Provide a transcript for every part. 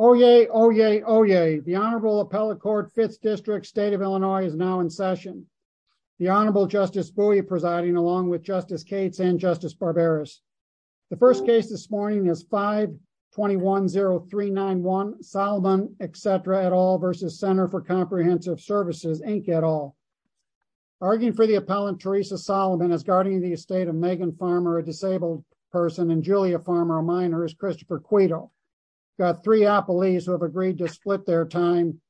Oh yay, oh yay, oh yay. The Honorable Appellate Court, 5th District, State of Illinois is now in session. The Honorable Justice Bowie presiding along with Justice Cates and Justice Barberis. The first case this morning is 5-210391, Solomon, et cetera, et al. versus Center for Comprehensive Services, Inc. et al. Arguing for the appellant, Teresa Solomon, as guardian of the estate of Megan Farmer, a disabled person, and Julia Farmer, a minor, is Christopher Quido. Got three appellees who have agreed to split their time,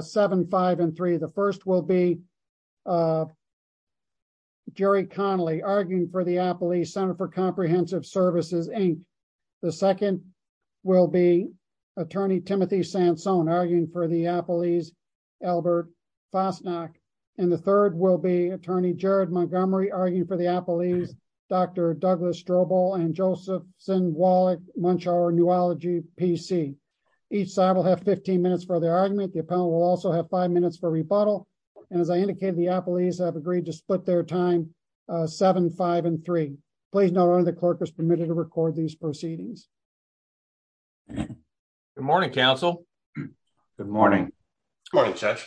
seven, five, and three. The first will be Jerry Connolly, arguing for the appellee, Center for Comprehensive Services, Inc. The second will be Attorney Timothy Sansone, arguing for the appellee's Albert Fosnack. And the third will be Attorney Jared Montgomery, arguing for the appellee's Dr. Douglas Strobel and Josephson Wallach-Munchauer Neurology PC. Each side will have 15 minutes for their argument. The appellant will also have five minutes for rebuttal. And as I indicated, the appellees have agreed to split their time, seven, five, and three. Please note only the clerk is permitted to record these proceedings. Good morning, counsel. Good morning. Good morning, Judge.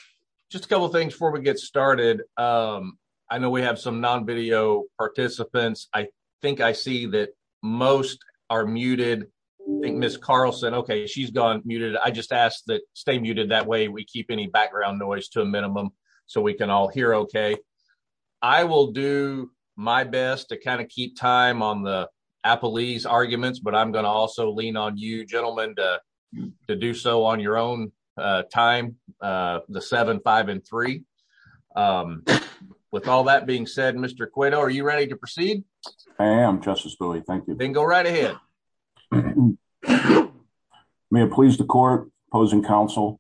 Just a couple of things before we get started. I know we have some non-video participants. I think I see that most are muted. Ms. Carlson, okay, she's gone muted. I just ask that stay muted. That way, we keep any background noise to a minimum so we can all hear okay. I will do my best to kind of keep time on the appellee's arguments, but I'm gonna also lean on you, gentlemen, to do so on your own time, the seven, five, and three. With all that being said, Mr. Cueto, are you ready to proceed? I am, Justice Bui. Thank you. Then go right ahead. May it please the court, opposing counsel,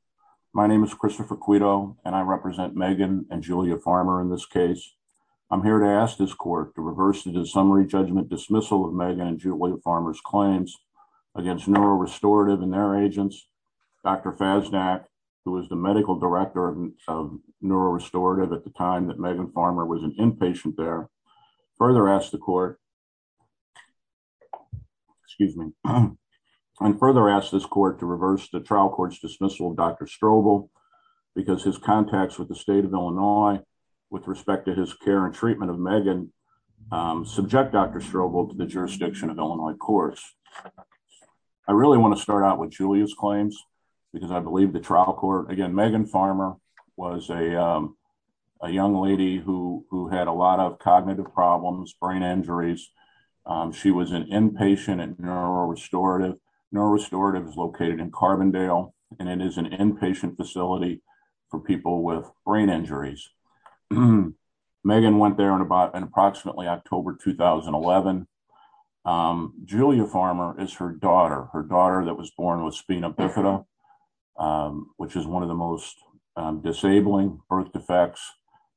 my name is Christopher Cueto, and I represent Megan and Julia Farmer in this case. I'm here to ask this court to reverse the dissumary judgment dismissal of Megan and Julia Farmer's claims against NeuroRestorative and their agents, Dr. Faznak, who was the medical director of NeuroRestorative at the time that Megan Farmer was an inpatient there, further ask the court, excuse me, and further ask this court to reverse the trial court's dismissal of Dr. Strobel because his contacts with the state of Illinois with respect to his care and treatment of Megan subject Dr. Strobel to the jurisdiction of Illinois courts. I really wanna start out with Julia's claims because I believe the trial court, again, Megan Farmer was a young lady who had a lot of cognitive problems, brain injuries. She was an inpatient at NeuroRestorative. NeuroRestorative is located in Carbondale, and it is an inpatient facility for people with brain injuries. Megan went there in approximately October, 2011. Julia Farmer is her daughter, her daughter that was born with spina bifida, which is one of the most disabling birth defects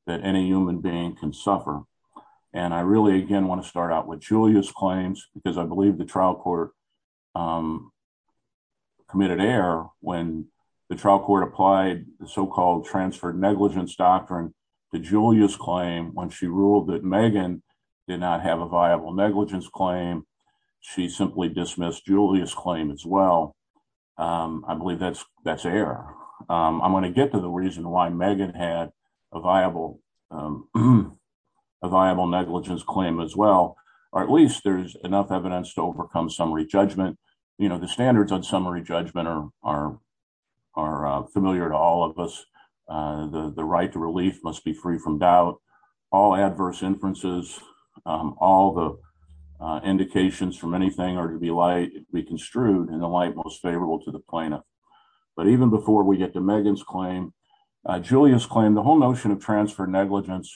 that any human being can suffer. And I really, again, wanna start out with Julia's claims because I believe the trial court committed error when the trial court applied the so-called transferred negligence doctrine to Julia's claim when she ruled that Megan did not have a viable negligence claim. She simply dismissed Julia's claim as well. I believe that's error. I'm gonna get to the reason why Megan had a viable negligence claim as well, or at least there's enough evidence to overcome summary judgment. The standards on summary judgment are familiar to all of us. The right to relief must be free from doubt. All adverse inferences, all the indications from anything are to be light, be construed in the light most favorable to the plaintiff. But even before we get to Megan's claim, Julia's claim, the whole notion of transfer negligence,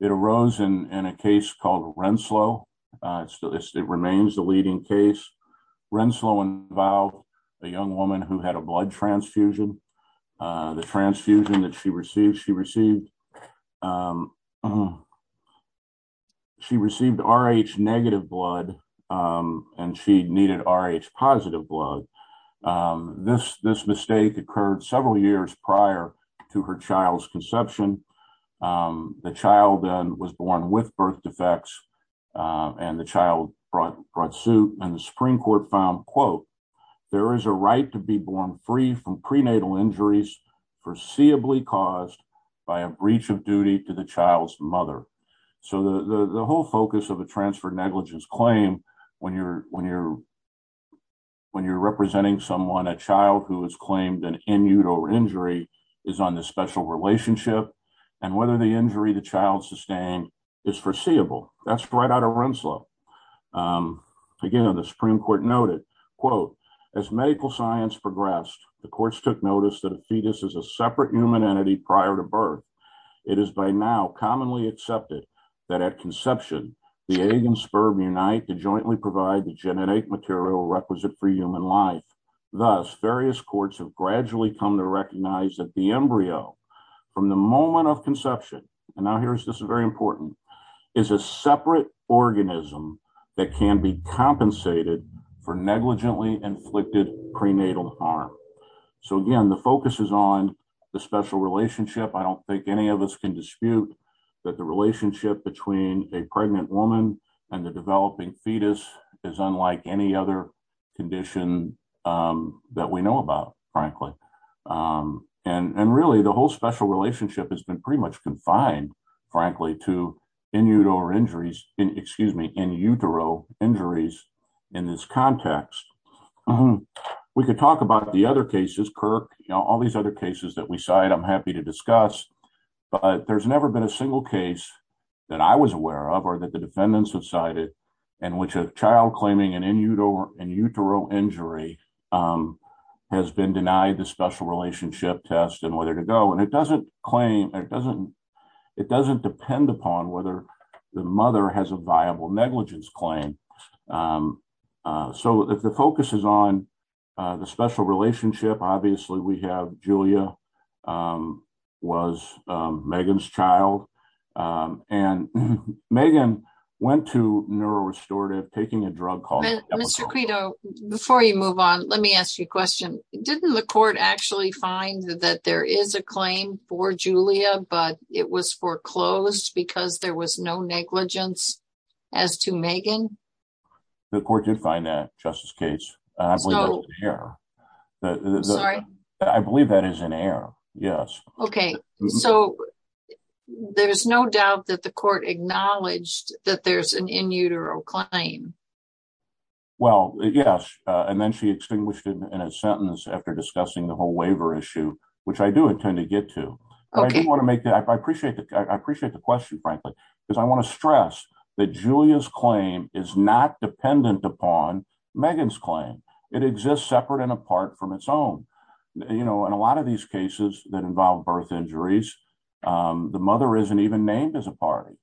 it arose in a case called Renslow. It remains the leading case. Renslow involved a young woman who had a blood transfusion. The transfusion that she received, she received RH negative blood and she needed RH positive blood. This mistake occurred several years prior to her child's conception. The child then was born with birth defects and the child brought suit and the Supreme Court found, quote, there is a right to be born free from prenatal injuries foreseeably caused by a breach of duty to the child's mother. So the whole focus of a transfer negligence claim when you're representing someone, a child who has claimed an in-utero injury is on the special relationship and whether the injury the child sustained is foreseeable. That's right out of Renslow. Again, the Supreme Court noted, quote, as medical science progressed, the courts took notice that a fetus is a separate human entity prior to birth. It is by now commonly accepted that at conception, the egg and sperm unite to jointly provide the genetic material requisite for human life. Thus, various courts have gradually come to recognize that the embryo from the moment of conception, and now here's this very important, is a separate organism that can be compensated for negligently inflicted prenatal harm. So again, the focus is on the special relationship. I don't think any of us can dispute that the relationship between a pregnant woman and the developing fetus is unlike any other condition that we know about, frankly. And really the whole special relationship has been pretty much confined, frankly, to in-utero injuries in this context. We could talk about the other cases, Kirk, all these other cases that we cite, I'm happy to discuss, but there's never been a single case that I was aware of, or that the defendants have cited, in which a child claiming an in-utero injury has been denied the special relationship test and whether to go. And it doesn't claim, it doesn't depend upon whether the mother has a viable negligence claim. So if the focus is on the special relationship, obviously we have Julia was Megan's child. And Megan went to NeuroRestorative taking a drug called- Mr. Quito, before you move on, let me ask you a question. Didn't the court actually find that there is a claim for Julia, but it was foreclosed because there was no negligence as to Megan? The court did find that, Justice Gates. I believe that's in error. Sorry? I believe that is in error, yes. Okay, so there's no doubt that the court acknowledged that there's an in-utero claim. Well, yes, and then she extinguished it in a sentence after discussing the whole waiver issue, which I do intend to get to. Okay. I appreciate the question, frankly, because I want to stress that Julia's claim is not dependent upon Megan's claim. It exists separate and apart from its own. You know, in a lot of these cases that involve birth injuries, the mother isn't even named as a party.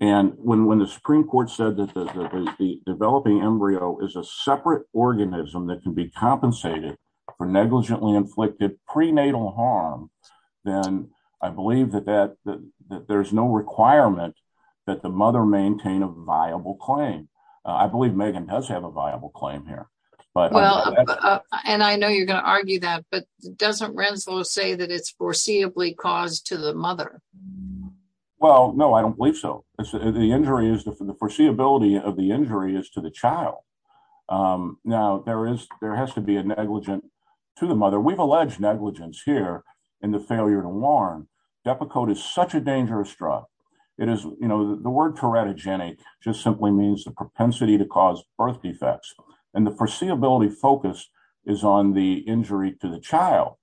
And when the Supreme Court said that the developing embryo is a separate organism that can be compensated for negligently inflicted prenatal harm, then I believe that there's no requirement that the mother maintain a viable claim. I believe Megan does have a viable claim here, but- Well, and I know you're going to argue that, but doesn't Renslow say that it's foreseeably caused to the mother? Well, no, I don't believe so. The injury is, the foreseeability of the injury is to the child. Now, there has to be a negligent to the mother. We've alleged negligence here in the failure to warn. Depakote is such a dangerous drug. You know, the word teratogenic just simply means the propensity to cause birth defects. And the foreseeability focus is on the injury to the child.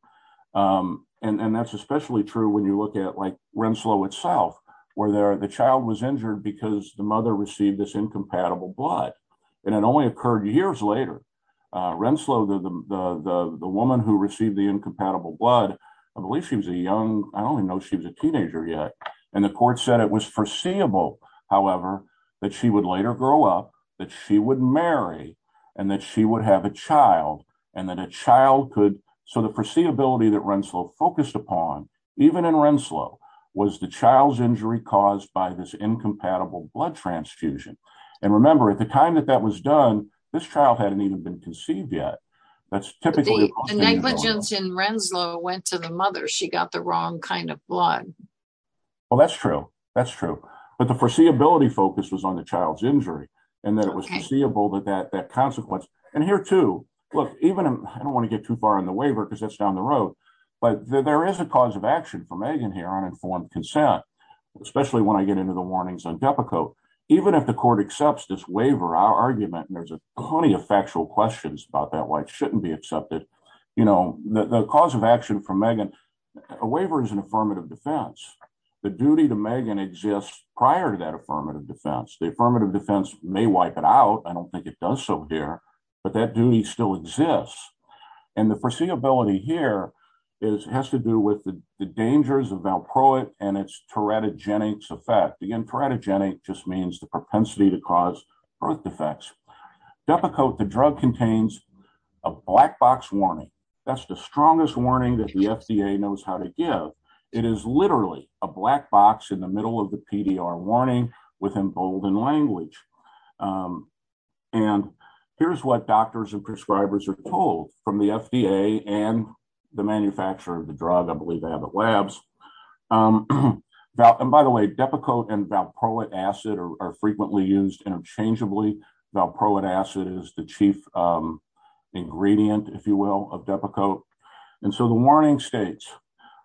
And that's especially true when you look at like Renslow itself, where the child was injured because the mother received this incompatible blood. And it only occurred years later. Renslow, the woman who received the incompatible blood, I believe she was a young, I only know she was a teenager yet. And the court said it was foreseeable, however, that she would later grow up, that she would marry, and that she would have a child and that a child could... So the foreseeability that Renslow focused upon, even in Renslow, was the child's injury caused by this incompatible blood transfusion. And remember, at the time that that was done, this child hadn't even been conceived yet. The negligence in Renslow went to the mother. She got the wrong kind of blood. Well, that's true, that's true. But the foreseeability focus was on the child's injury and that it was foreseeable that consequence. And here too, look, even I don't wanna get too far on the waiver because that's down the road, but there is a cause of action for Megan here on informed consent, especially when I get into the warnings on Depakote. Even if the court accepts this waiver, our argument, and there's a plenty of factual questions about that, why it shouldn't be accepted. The cause of action for Megan, a waiver is an affirmative defense. The duty to Megan exists prior to that affirmative defense. The affirmative defense may wipe it out. I don't think it does so here, but that duty still exists. And the foreseeability here has to do with the dangers of Valproate and its teratogenic effect. Again, teratogenic just means the propensity to cause birth defects. Depakote, the drug contains a black box warning. That's the strongest warning that the FDA knows how to give. It is literally a black box in the middle of the PDR warning with emboldened language. And here's what doctors and prescribers are told from the FDA and the manufacturer of the drug. I believe they have it labs. And by the way, Depakote and Valproate acid are frequently used interchangeably. Valproate acid is the chief ingredient, if you will, of Depakote. And so the warning states,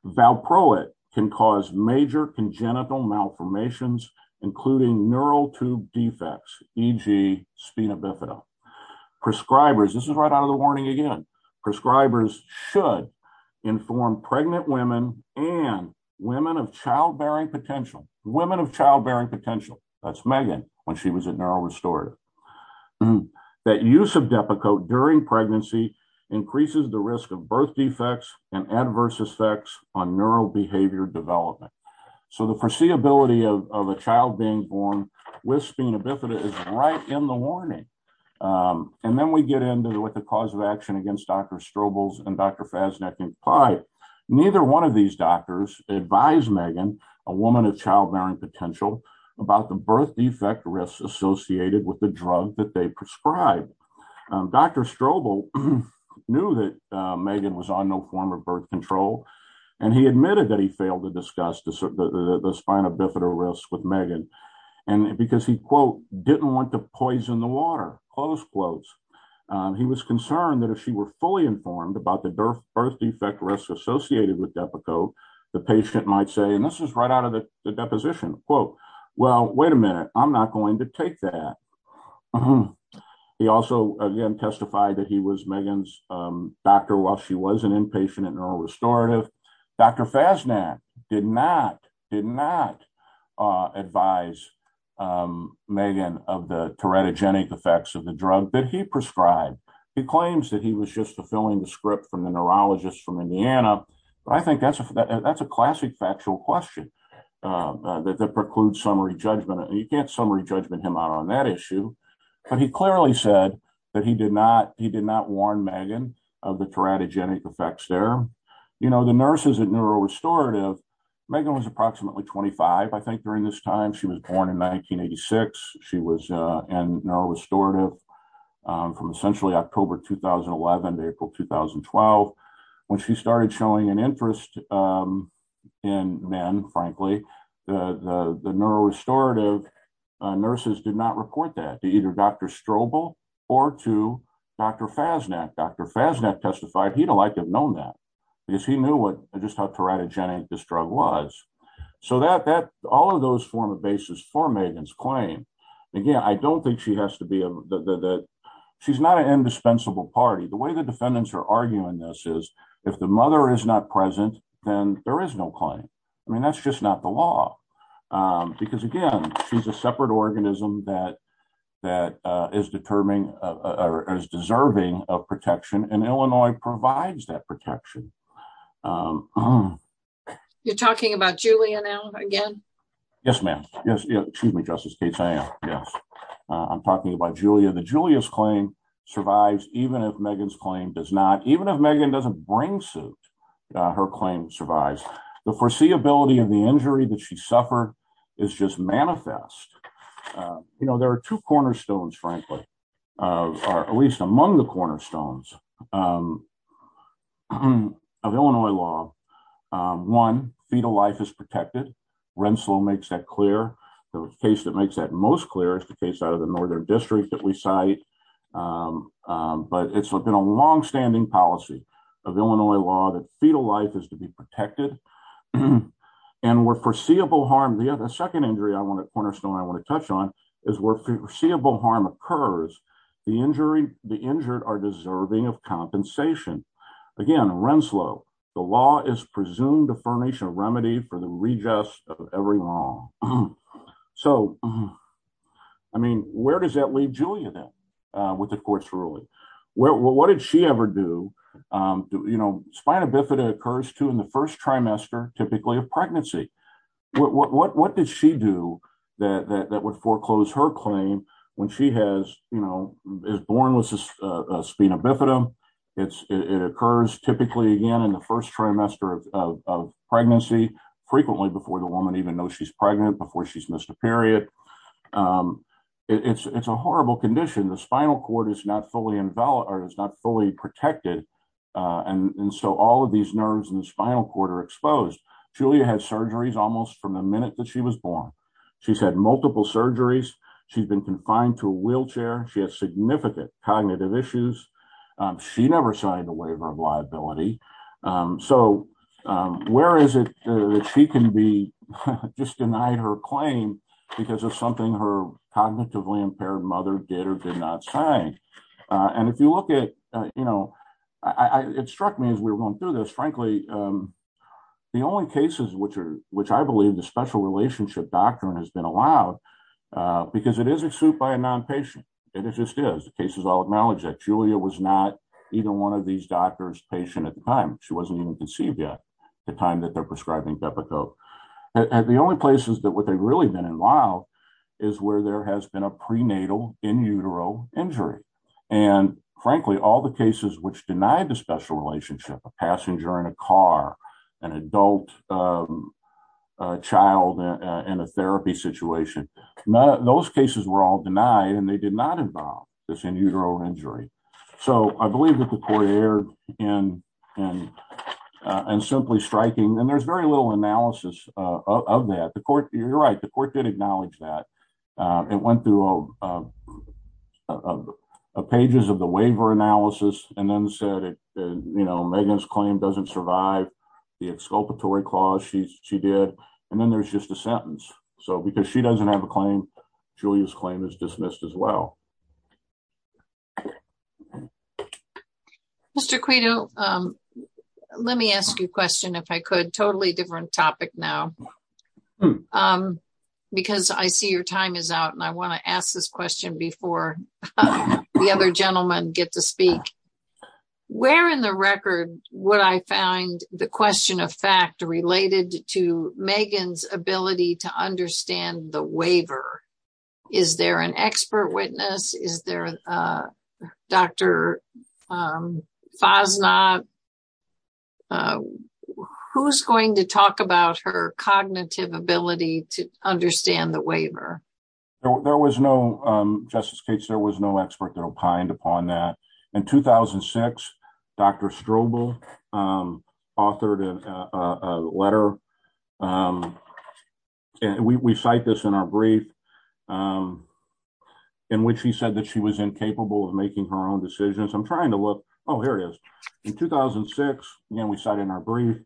Valproate can cause major congenital malformations, including neural tube defects, e.g. spina bifida. Prescribers, this is right out of the warning again. Prescribers should inform pregnant women and women of childbearing potential. Women of childbearing potential. That's Megan when she was a neural restorer. That use of Depakote during pregnancy increases the risk of birth defects and adverse effects on neural behavior development. So the foreseeability of a child being born with spina bifida is right in the warning. And then we get into what the cause of action against Dr. Strobel's and Dr. Fasnacht implied. Neither one of these doctors advised Megan, a woman of childbearing potential, about the birth defect risks associated with the drug that they prescribed. Dr. Strobel knew that Megan was on no form of birth control, and he admitted that he failed to discuss the spina bifida risk with Megan. And because he, quote, didn't want to poison the water, close quotes. He was concerned that if she were fully informed about the birth defect risk associated with Depakote, the patient might say, and this is right out of the deposition, quote, well, wait a minute, I'm not going to take that. He also again testified that he was Megan's doctor while she was an inpatient and neuro restorative. Dr. Fasnacht did not, did not advise Megan of the teratogenic effects of the drug that he prescribed. He claims that he was just fulfilling the script from the neurologist from Indiana. But I think that's a, that's a classic factual question that precludes summary judgment. You can't summary judgment him out on that issue. But he clearly said that he did not, he did not warn Megan of the teratogenic effects there. You know, the nurses at neuro restorative, Megan was approximately 25. I think during this time, she was born in 1986. She was in neuro restorative from essentially October, 2011 to April, 2012. When she started showing an interest in men, frankly, the neuro restorative nurses did not report that to either Dr. Strobel or to Dr. Fasnacht. Dr. Fasnacht testified he'd have liked to have known that because he knew what, just how teratogenic this drug was. So that, that, all of those form a basis for Megan's claim. Again, I don't think she has to be, she's not an indispensable party. The way the defendants are arguing this is if the mother is not present, then there is no claim. I mean, that's just not the law. Because again, she's a separate organism that, that is determining, is deserving of protection. And Illinois provides that protection. You're talking about Julia now again? Yes, ma'am. Yes. Excuse me, Justice Cates. I am. Yes. I'm talking about Julia. The Julius claim survives even if Megan's claim does not, even if Megan doesn't bring suit, her claim survives. The foreseeability of the injury that she suffered is just manifest. You know, there are two cornerstones, frankly, or at least among the cornerstones of Illinois law. One, fetal life is protected. Rensselaer makes that clear. The case that makes that most clear is the case out of the Northern District that we cite. But it's been a longstanding policy of Illinois law that fetal life is to be protected. And where foreseeable harm, the other second injury I want to, cornerstone I want to touch on is where foreseeable harm occurs, the injury, the injured are deserving of compensation. Again, Rensselaer, the law is presumed a furnish a remedy for the readjust of every law. So, I mean, where does that leave Julia then with the court's ruling? Well, what did she ever do? You know, spina bifida occurs to in the first trimester, typically of pregnancy. What did she do that would foreclose her claim when she has, you know, is born with a spina bifida? It's it occurs typically again in the first trimester of pregnancy, frequently before the woman even knows she's pregnant before she's missed a period. It's a horrible condition. The spinal cord is not fully invalid or is not fully protected. And so all of these nerves in the spinal cord are exposed. Julia had surgeries almost from the minute that she was born. She's had multiple surgeries. She's been confined to a wheelchair. She has significant cognitive issues. She never signed a waiver of liability. So where is it that she can be just denied her claim because of something her cognitively impaired mother did or did not say? And if you look at, you know, it struck me as we were going through this, frankly, the only cases which are, which I believe the special relationship doctrine has been allowed because it isn't sued by a nonpatient. And it just is the cases. I'll acknowledge that Julia was not either one of these doctors patient at the time. She wasn't even conceived yet the time that they're prescribing Pepico. The only places that what they've really been in while is where there has been a prenatal in utero injury. And frankly, all the cases which denied the special relationship, a passenger in a car, an adult, a child in a therapy situation. Those cases were all denied and they did not involve this in utero injury. So I believe that the court aired in and simply striking and there's very little analysis of that. The court, you're right. The court did acknowledge that. It went through a pages of the waiver analysis and then said, you know, Megan's claim doesn't survive. The exculpatory clause she did. And then there's just a sentence. So because she doesn't have a claim, Julia's claim is dismissed as well. Mr. Quito, let me ask you a question if I could. Totally different topic now. Because I see your time is out and I want to ask this question before the other gentlemen get to speak. Where in the record would I find the question of fact related to Megan's ability to understand the waiver? Is there an expert witness? Is there a Dr. Fasnacht? Who's going to talk about her cognitive ability to understand the waiver? There was no, Justice Cates, there was no expert that opined upon that. In 2006, Dr. Strobel, authored a letter. We cite this in our brief in which he said that she was incapable of making her own decisions. I'm trying to look. Oh, here it is. In 2006, and we cite in our brief,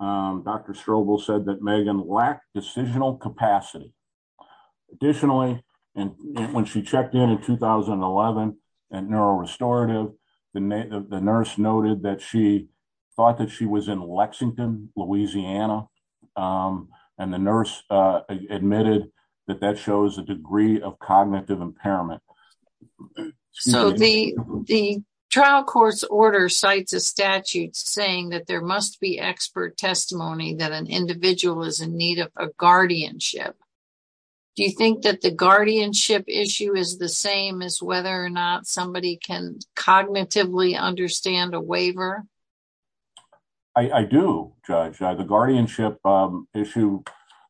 Dr. Strobel said that Megan lacked decisional capacity. Additionally, and when she checked in in 2011 at NeuroRestorative, the nurse noted that she thought that she was in Lexington, Louisiana. And the nurse admitted that that shows a degree of cognitive impairment. So the trial court's order cites a statute saying that there must be expert testimony that an individual is in need of a guardianship. Do you think that the guardianship issue is the same as whether or not somebody can cognitively understand a waiver? I do, Judge. The guardianship issue,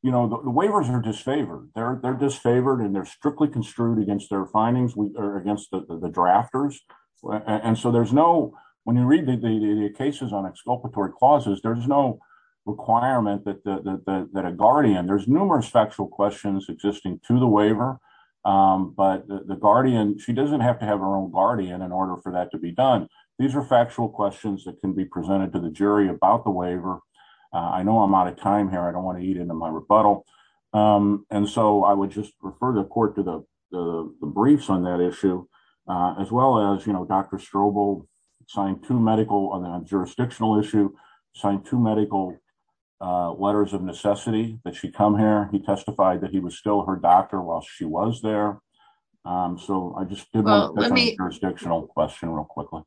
you know, the waivers are disfavored. They're disfavored and they're strictly construed against their findings against the drafters. And so there's no, when you read the cases on exculpatory clauses, there's no requirement that a guardian, there's numerous factual questions existing to the waiver, but the guardian, she doesn't have to have her own guardian in order for that to be done. These are factual questions that can be presented to the jury about the waiver. I know I'm out of time here. I don't want to eat into my rebuttal. And so I would just refer the court to the briefs on that issue, as well as, you know, Dr. Strobel signed two medical, on a jurisdictional issue, signed two medical letters of necessity that she come here. He testified that he was still her doctor while she was there. So I just did a jurisdictional question real quickly.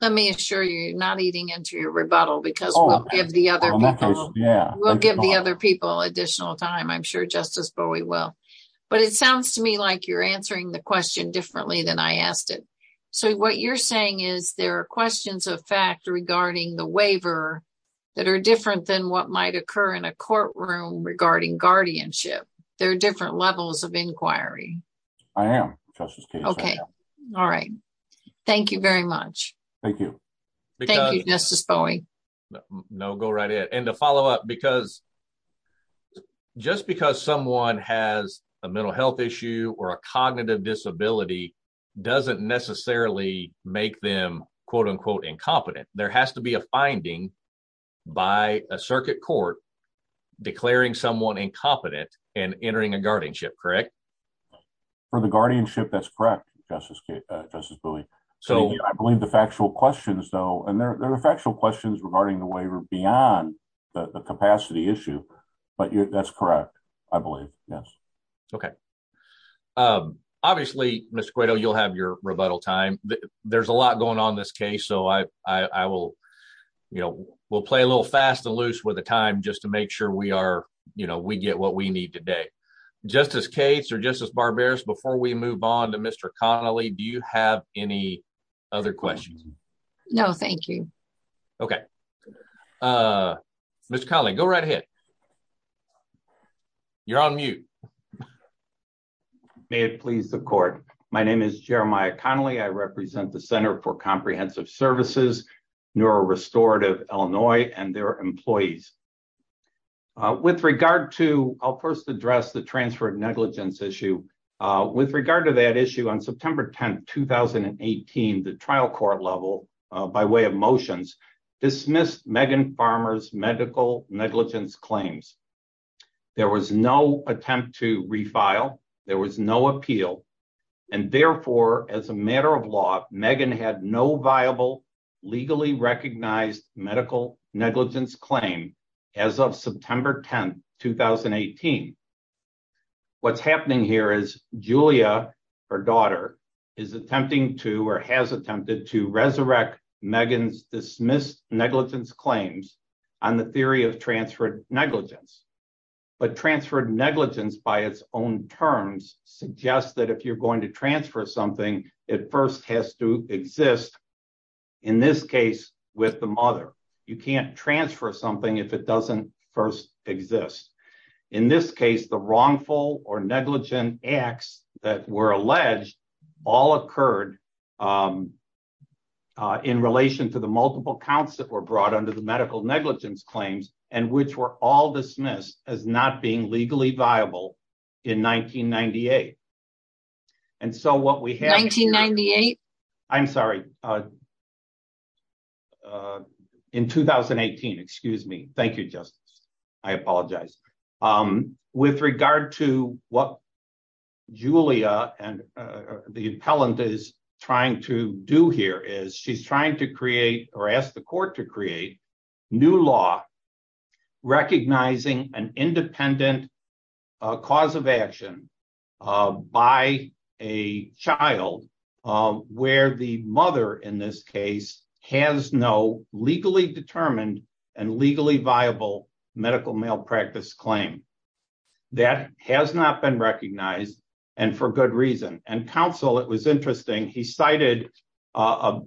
Let me assure you, you're not eating into your rebuttal because we'll give the other people, we'll give the other people additional time. I'm sure Justice Bowie will. But it sounds to me like you're answering the question differently than I asked it. So what you're saying is there are questions of fact regarding the waiver that are different than what might occur in a courtroom regarding guardianship. There are different levels of inquiry. I am, Justice Case. Okay. All right. Thank you very much. Thank you. Thank you, Justice Bowie. No, go right ahead. And to follow up, because, just because someone has a mental health issue or a cognitive disability doesn't necessarily make them, quote unquote, incompetent. There has to be a finding by a circuit court declaring someone incompetent and entering a guardianship, correct? For the guardianship, that's correct, Justice Bowie. So I believe the factual questions, though, and there are factual questions regarding the waiver beyond the capacity issue. But that's correct, I believe, yes. Okay. Obviously, Mr. Guido, you'll have your rebuttal time. There's a lot going on in this case. So I will, you know, we'll play a little fast and loose with the time just to make sure we are, you know, we get what we need today. Justice Cates or Justice Barberos, before we move on to Mr. Connolly, do you have any other questions? No, thank you. Okay. Mr. Connolly, go right ahead. You're on mute. May it please the court. My name is Jeremiah Connolly. I represent the Center for Comprehensive Services, NeuroRestorative Illinois and their employees. With regard to, I'll first address the transfer of negligence issue. With regard to that issue, on September 10th, 2018, the trial court level, by way of motions, dismissed Megan Farmer's medical negligence claims. There was no attempt to refile. There was no appeal. And therefore, as a matter of law, Megan had no viable, legally recognized medical negligence claim as of September 10th, 2018. What's happening here is Julia, her daughter, is attempting to, or has attempted to, resurrect Megan's dismissed negligence claims on the theory of transferred negligence. But transferred negligence by its own terms suggests that if you're going to transfer something, it first has to exist, in this case, with the mother. You can't transfer something if it doesn't first exist. In this case, the wrongful or negligent acts that were alleged, all occurred in relation to the multiple counts that were brought under the medical negligence claims, and which were all dismissed as not being legally viable in 1998. And so what we have- 1998? I'm sorry. In 2018, excuse me. Thank you, Justice. I apologize. With regard to what Julia and the appellant is trying to do here, is she's trying to create, or ask the court to create, new law recognizing an independent cause of action by a child where the mother, in this case, has no legally determined and legally viable medical malpractice claim. That has not been recognized, and for good reason. And counsel, it was interesting. He cited a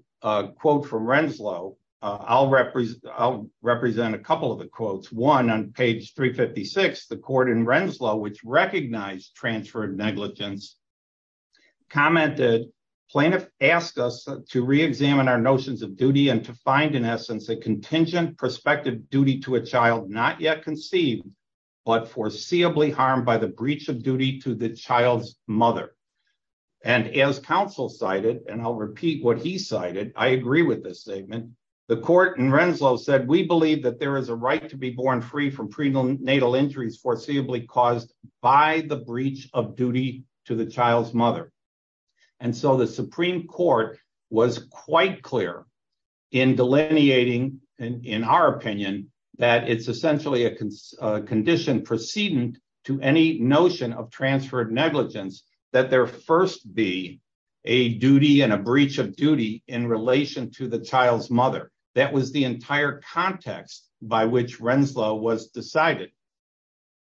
quote from Renslow. I'll represent a couple of the quotes. One on page 356, the court in Renslow, which recognized transferred negligence, commented, plaintiff asked us to re-examine our notions of duty and to find, in essence, a contingent prospective duty to a child not yet conceived, but foreseeably harmed by the breach of duty to the child's mother. And as counsel cited, and I'll repeat what he cited, I agree with this statement. The court in Renslow said, we believe that there is a right to be born free from prenatal injuries foreseeably caused by the breach of duty to the child's mother. And so the Supreme Court was quite clear in delineating, in our opinion, that it's essentially a condition precedent to any notion of transferred negligence that there first be a duty and a breach of duty in relation to the child's mother. That was the entire context by which Renslow was decided.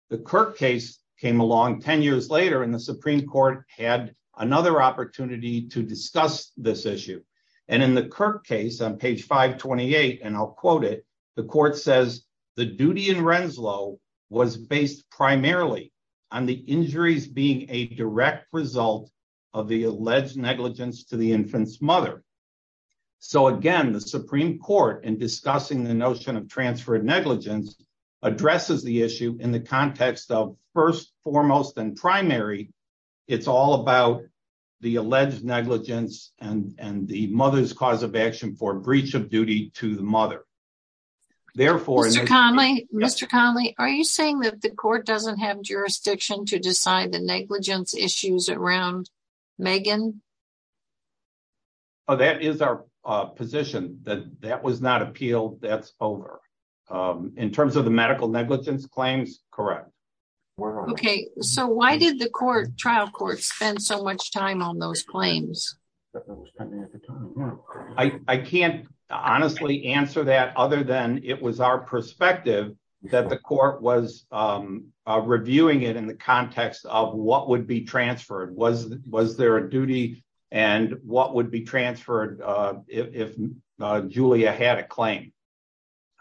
The Kirk case came along 10 years later and the Supreme Court had another opportunity to discuss this issue. And in the Kirk case on page 528, and I'll quote it, the court says, the duty in Renslow was based primarily on the injuries being a direct result of the alleged negligence to the infant's mother. So again, the Supreme Court in discussing the notion of transferred negligence addresses the issue in the context of first, foremost, and primary, it's all about the alleged negligence and the mother's cause of action for breach of duty to the mother. Therefore, Mr. Conley, are you saying that the court doesn't have jurisdiction to decide the negligence issues around Megan? Oh, that is our position that that was not appealed. That's over. In terms of the medical negligence claims. Correct. Okay. So why did the court trial court spend so much time on those claims? I can't honestly answer that other than it was our perspective that the court was reviewing it in the context of what would be transferred. Was there a duty and what would be transferred if Julia had a claim?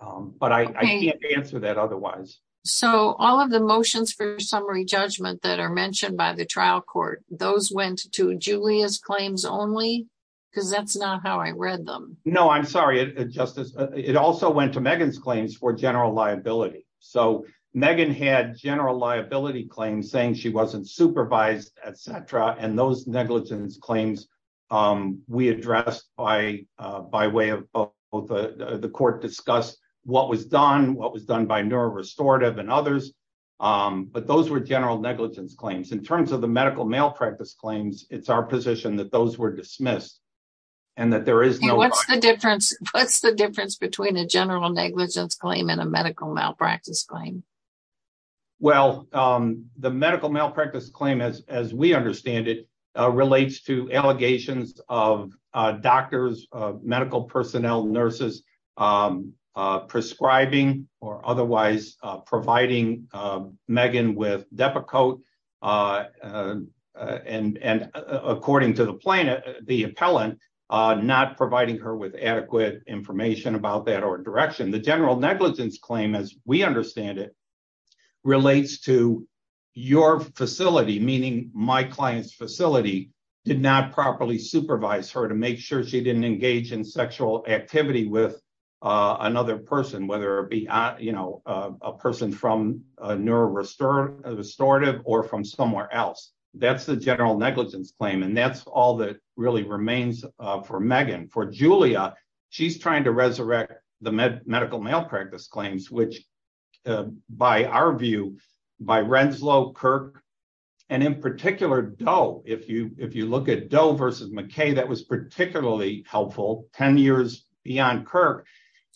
But I can't answer that otherwise. So all of the motions for summary judgment that are mentioned by the trial court, those went to Julia's claims because that's not how I read them. No, I'm sorry, Justice. It also went to Megan's claims for general liability. So Megan had general liability claims saying she wasn't supervised, etc. And those negligence claims we addressed by way of both. The court discussed what was done, what was done by neuro restorative and others. But those were general negligence claims. In terms of the medical malpractice claims, it's our position that those were dismissed and that there is no difference. What's the difference between a general negligence claim and a medical malpractice claim? Well, the medical malpractice claim, as we understand it, relates to allegations of doctors, medical personnel, nurses prescribing or otherwise providing Megan with Depakote. And according to the plaintiff, the appellant, not providing her with adequate information about that or direction. The general negligence claim, as we understand it, relates to your facility, meaning my client's facility did not properly supervise her to make sure she didn't engage in sexual activity with another person, whether it be a person from a neuro restorative or from somewhere else. That's the general negligence claim. And that's all that really remains for Megan. For Julia, she's trying to resurrect the medical malpractice claims, which by our view, by Renslow, Kirk, and in particular Doe, if you look at Doe versus McKay, that was particularly helpful 10 years beyond Kirk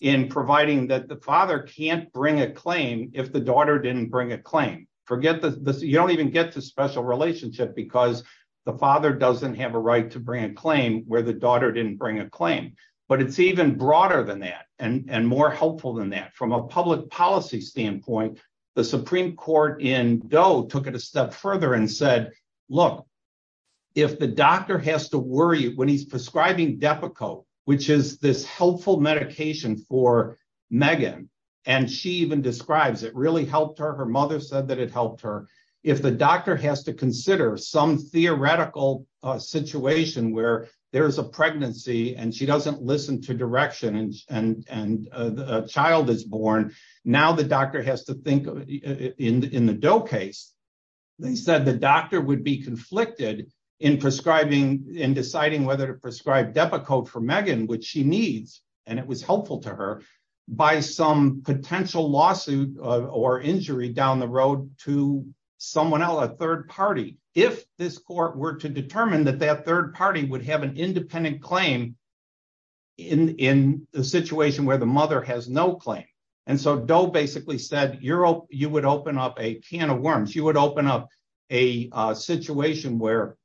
in providing that the father can't bring a claim if the daughter didn't bring a claim. You don't even get to special relationship because the father doesn't have a right to bring a claim where the daughter didn't bring a claim. But it's even broader than that and more helpful than that. From a public policy standpoint, the Supreme Court in Doe took it a step further and said, look, if the doctor has to worry when he's prescribing Depakote, which is this helpful medication for Megan, and she even describes it really helped her. Her mother said that it helped her. If the doctor has to consider some theoretical situation where there is a pregnancy and she doesn't listen to direction and a child is born, now the doctor has to think in the Doe case. They said the doctor would be conflicted in prescribing, in deciding whether to prescribe Depakote for Megan, which she needs, and it was helpful to her, by some potential lawsuit or injury down the road to someone else, a third party, if this court were to determine that that third party would have an independent claim in the situation where the mother has no claim. And so Doe basically said, you would open up a can of worms. You would open up a situation where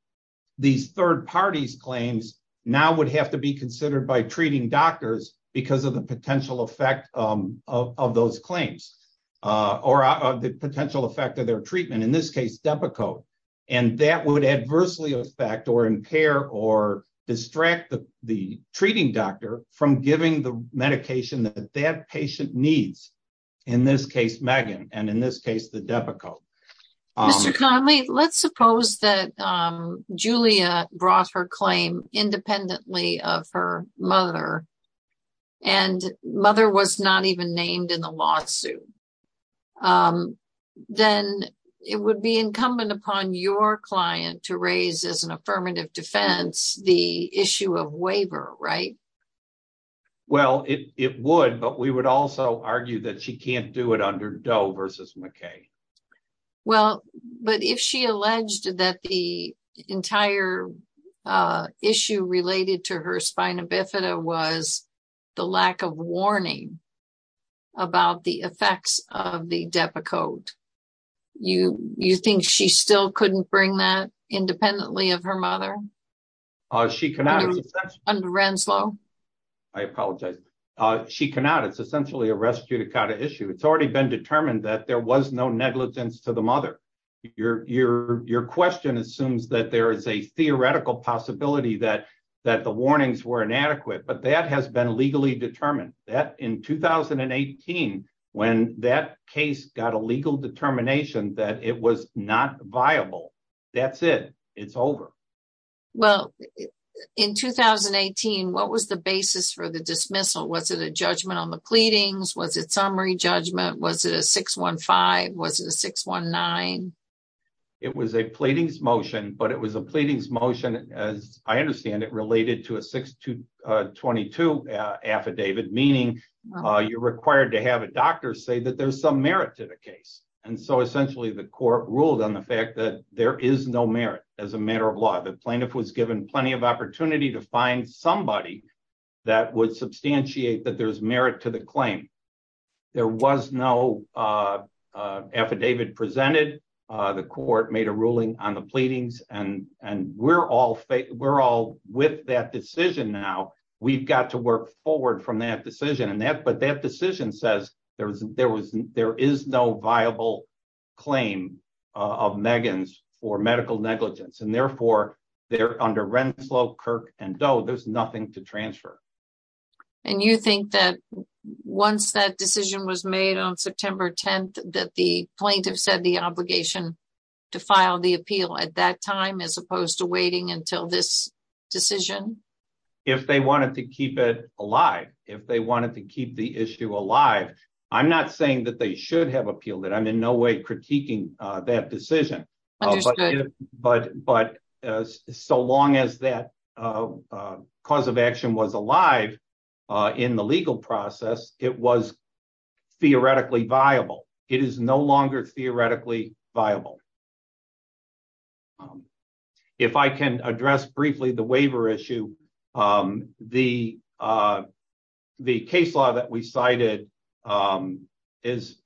these third party's claims now would have to be considered by treating doctors because of the potential effect of those claims. Or the potential effect of their treatment, in this case, Depakote. And that would adversely affect or impair or distract the treating doctor from giving the medication that that patient needs, in this case, Megan, and in this case, the Depakote. Mr. Conley, let's suppose that Julia brought her claim independently of her mother and mother was not even named in the lawsuit. Um, then it would be incumbent upon your client to raise as an affirmative defense the issue of waiver, right? Well, it would, but we would also argue that she can't do it under Doe versus McKay. Well, but if she alleged that the entire issue related to her spina bifida was the lack of warning about the effects of the Depakote, you think she still couldn't bring that independently of her mother? Uh, she cannot. Under Renslow. I apologize. She cannot. It's essentially a restituted kind of issue. It's already been determined that there was no negligence to the mother. Your question assumes that there is a theoretical possibility that the warnings were inadequate, but that has been legally determined. That in 2018, when that case got a legal determination that it was not viable, that's it. It's over. Well, in 2018, what was the basis for the dismissal? Was it a judgment on the pleadings? Was it summary judgment? Was it a 6-1-5? Was it a 6-1-9? It was a pleadings motion, but it was a pleadings motion, as I understand it, related to a 6-2-22 affidavit, meaning you're required to have a doctor say that there's some merit to the case. And so essentially, the court ruled on the fact that there is no merit as a matter of law. The plaintiff was given plenty of opportunity to find somebody that would substantiate that there's merit to the claim. There was no affidavit presented. The court made a ruling on the pleadings, and we're all with that decision now. We've got to work forward from that decision. But that decision says there is no viable claim of Megan's for medical negligence. And therefore, under Renslow, Kirk, and Doe, there's nothing to transfer. And you think that once that decision was made on September 10th, that the plaintiff said the obligation to file the appeal at that time as opposed to waiting until this decision? If they wanted to keep it alive, if they wanted to keep the issue alive, I'm not saying that they should have appealed it. I'm in no way critiquing that decision. But so long as that cause of action was alive in the legal process, it was theoretically viable. It is no longer theoretically viable. If I can address briefly the waiver issue, the case law that we cited is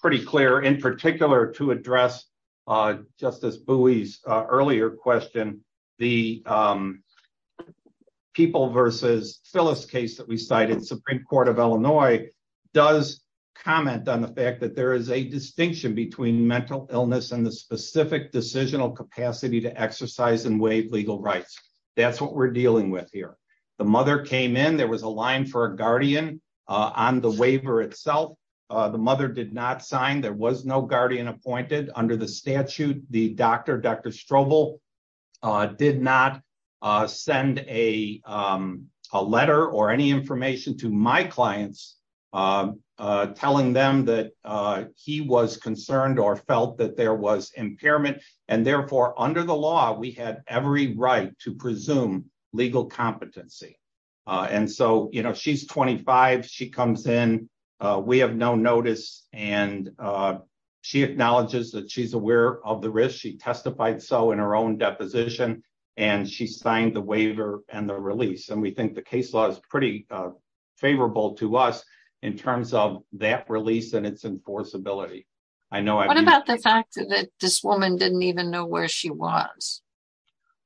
pretty clear. In particular, to address Justice Bowie's earlier question, the People v. Phyllis case that we cited, Supreme Court of Illinois, does comment on the fact that there is a distinction between mental illness and the specific decisional capacity to exercise and waive legal rights. That's what we're dealing with here. The mother came in. There was a line for a guardian on the waiver itself. The mother did not sign. There was no guardian appointed under the statute. The doctor, Dr. Strobel, did not send a letter or any information to my clients telling them that he was concerned or felt that there was impairment. And therefore, under the law, we had every right to presume legal competency. And so, you know, she's 25. She comes in. We have no notice. And she acknowledges that she's aware of the risk. She testified so in her own deposition. And she signed the waiver and the release. And we think the case law is pretty favorable to us in terms of that release and its enforceability. What about the fact that this woman didn't even know where she was?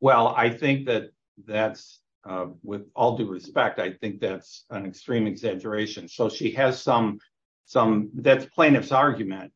Well, I think that that's, with all due respect, I think that's an extreme exaggeration. So she has some, that's plaintiff's argument.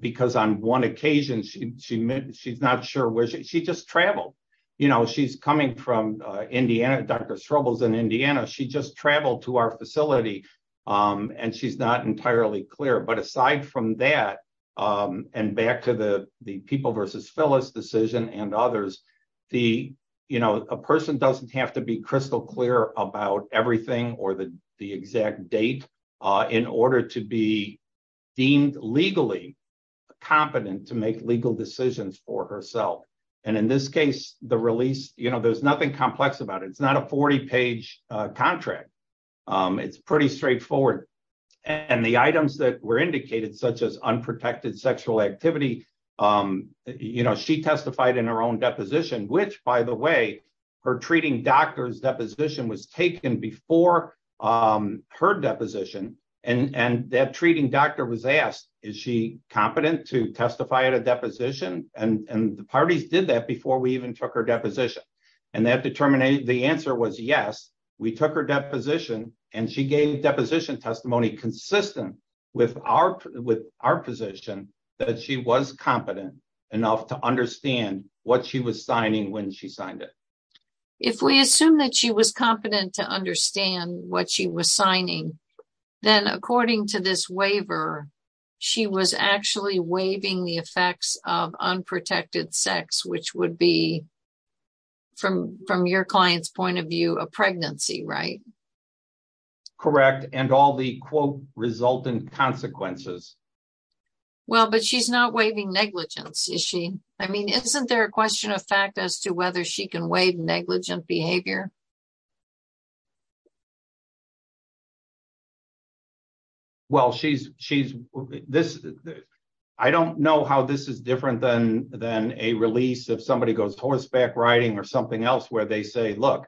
Because on one occasion, she's not sure where she, she just traveled. You know, she's coming from Indiana, Dr. Strobel's in Indiana. She just traveled to our facility. And she's not entirely clear. But aside from that, and back to the people versus Phyllis decision and others, the, you know, a person doesn't have to be crystal clear about everything or the exact date in order to be deemed legally competent to make legal decisions for herself. And in this case, the release, you know, there's nothing complex about it. It's not a 40 page contract. It's pretty straightforward. And the items that were indicated, such as unprotected sexual activity, you know, she testified in her own deposition, which by the way, her treating doctor's deposition was taken before her deposition. And that treating doctor was asked, is she competent to testify at a deposition? And the parties did that before we even took her deposition. And that determined the answer was yes. We took her deposition and she gave deposition testimony consistent with our position that she was competent enough to understand what she was signing when she signed it. If we assume that she was competent to understand what she was signing, then according to this waiver, she was actually waiving the effects of unprotected sex, which would be from, from your client's point of view, a pregnancy, right? Correct. And all the quote resultant consequences. Well, but she's not waiving negligence, is she? I mean, isn't there a question of fact as to whether she can waive negligent behavior? Well, she's, she's, this, I don't know how this is different than, than a release. If somebody goes horseback riding or something else where they say, look,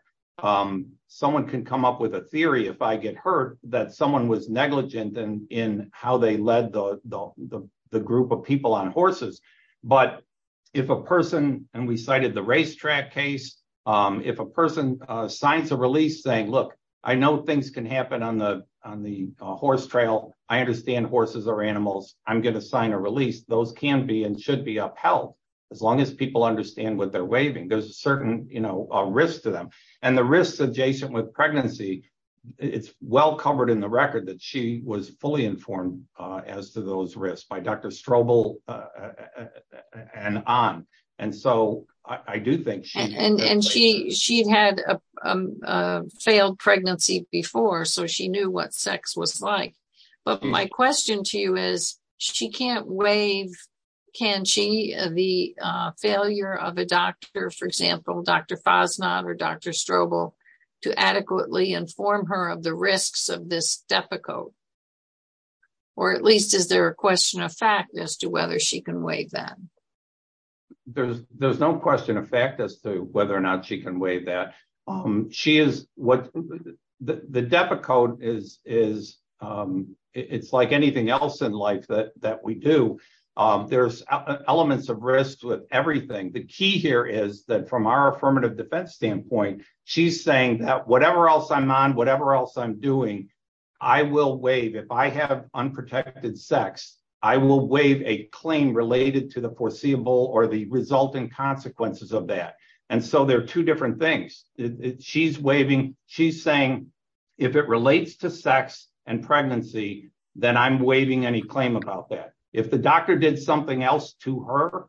someone can come up with a theory if I get hurt that someone was negligent in how they led the group of people on horses. But if a person, and we cited the racetrack case, if a person signs a release saying, look, I know things can happen on the, on the horse trail. I understand horses are animals. I'm going to sign a release. Those can be and should be upheld as long as people understand what they're waiving. There's a certain risk to them. And the risks adjacent with pregnancy, it's well covered in the record that she was fully informed as to those risks by Dr. Strobel and on. And so I do think she- And, and she, she had a failed pregnancy before. So she knew what sex was like. But my question to you is she can't waive, can she, the failure of a doctor, or Dr. Strobel to adequately inform her of the risks of this DEPA code? Or at least is there a question of fact as to whether she can waive that? There's, there's no question of fact as to whether or not she can waive that. She is what the, the DEPA code is, is, it's like anything else in life that, that we do. There's elements of risk with everything. The key here is that from our affirmative defense standpoint, she's saying that whatever else I'm on, whatever else I'm doing, I will waive. If I have unprotected sex, I will waive a claim related to the foreseeable or the resulting consequences of that. And so there are two different things. She's waiving, she's saying, if it relates to sex and pregnancy, then I'm waiving any claim about that. If the doctor did something else to her,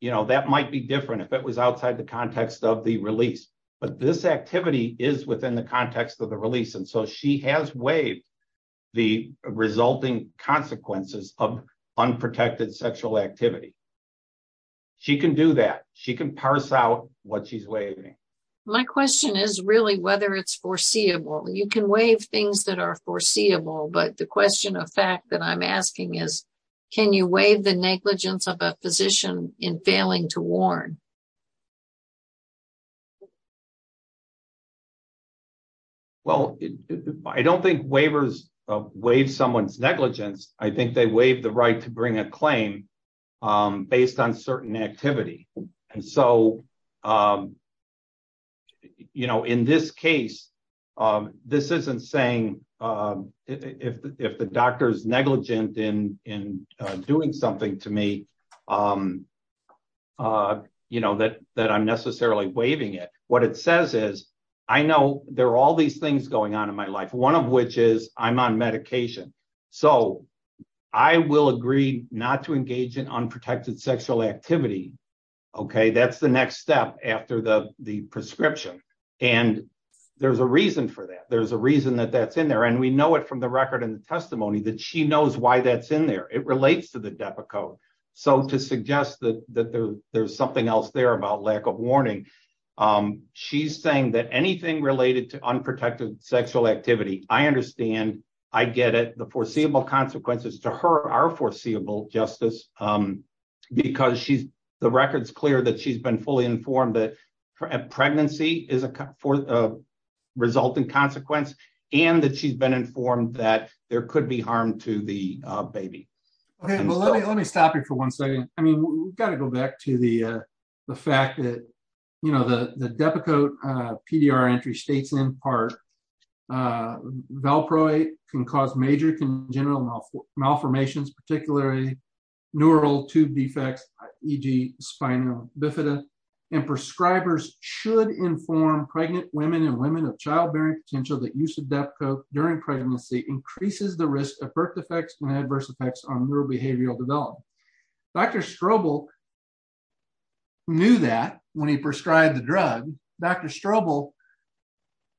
you know, that might be different if it was outside the context of the release. But this activity is within the context of the release. And so she has waived the resulting consequences of unprotected sexual activity. She can do that. She can parse out what she's waiving. My question is really whether it's foreseeable. You can waive things that are foreseeable, but the question of fact that I'm asking is, can you waive the negligence of a physician in failing to warn? Well, I don't think waivers waive someone's negligence. I think they waive the right to bring a claim based on certain activity. And so, you know, in this case, this isn't saying if the doctor's negligent in doing something to me, What if the doctor is negligent and what it says is, I know there are all these things going on in my life, one of which is I'm on medication. So I will agree not to engage in unprotected sexual activity, okay? That's the next step after the prescription. And there's a reason for that. There's a reason that that's in there. And we know it from the record and the testimony that she knows why that's in there. It relates to the DEPA code. So to suggest that there's something else there about lack of warning, she's saying that anything related to unprotected sexual activity, I understand, I get it. The foreseeable consequences to her are foreseeable justice because the record's clear that she's been fully informed that pregnancy is a resulting consequence and that she's been informed that there could be harm to the baby. Okay, well, let me stop you for one second. I mean, we've got to go back to the fact that the DEPA code PDR entry states in part, valproate can cause major congenital malformations, particularly neural tube defects, e.g. spinal bifida. And prescribers should inform pregnant women and women of childbearing potential that use of DEPA code during pregnancy increases the risk of birth defects and adverse effects on neurobehavioral development. Dr. Strobel knew that when he prescribed the drug, Dr. Strobel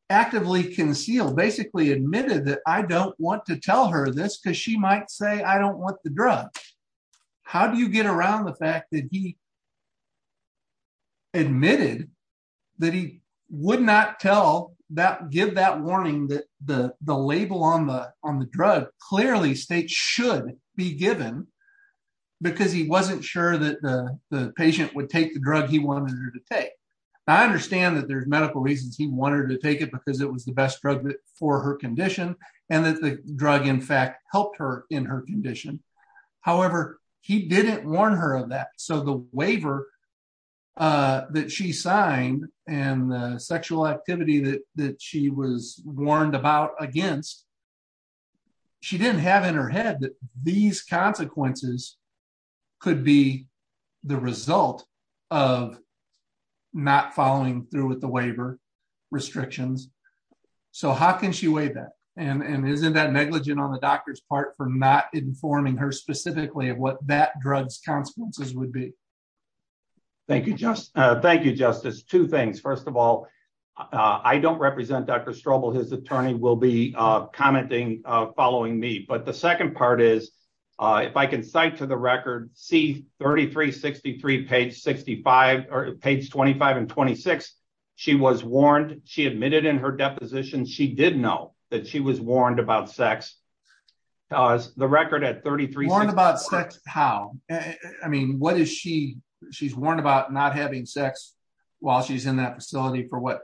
actively concealed, basically admitted that I don't want to tell her this because she might say, I don't want the drug. How do you get around the fact that he admitted that he would not give that warning that the label on the drug clearly states should be given because he wasn't sure that the patient would take the drug he wanted her to take. I understand that there's medical reasons he wanted her to take it because it was the best drug for her condition and that the drug in fact helped her in her condition. However, he didn't warn her of that. So the waiver that she signed and the sexual activity that she was warned about against, she didn't have in her head that these consequences could be the result of not following through with the waiver restrictions. So how can she weigh that? And isn't that negligent on the doctor's part for not informing her specifically of what that drug's consequences would be? Thank you, Justice. Two things. First of all, I don't represent Dr. Strobel. His attorney will be commenting following me. But the second part is if I can cite to the record C-3363 page 25 and 26, she was warned. She admitted in her deposition she did know that she was warned about sex. The record at 3363- Warned about sex, how? I mean, what is she? She's warned about not having sex while she's in that facility for what?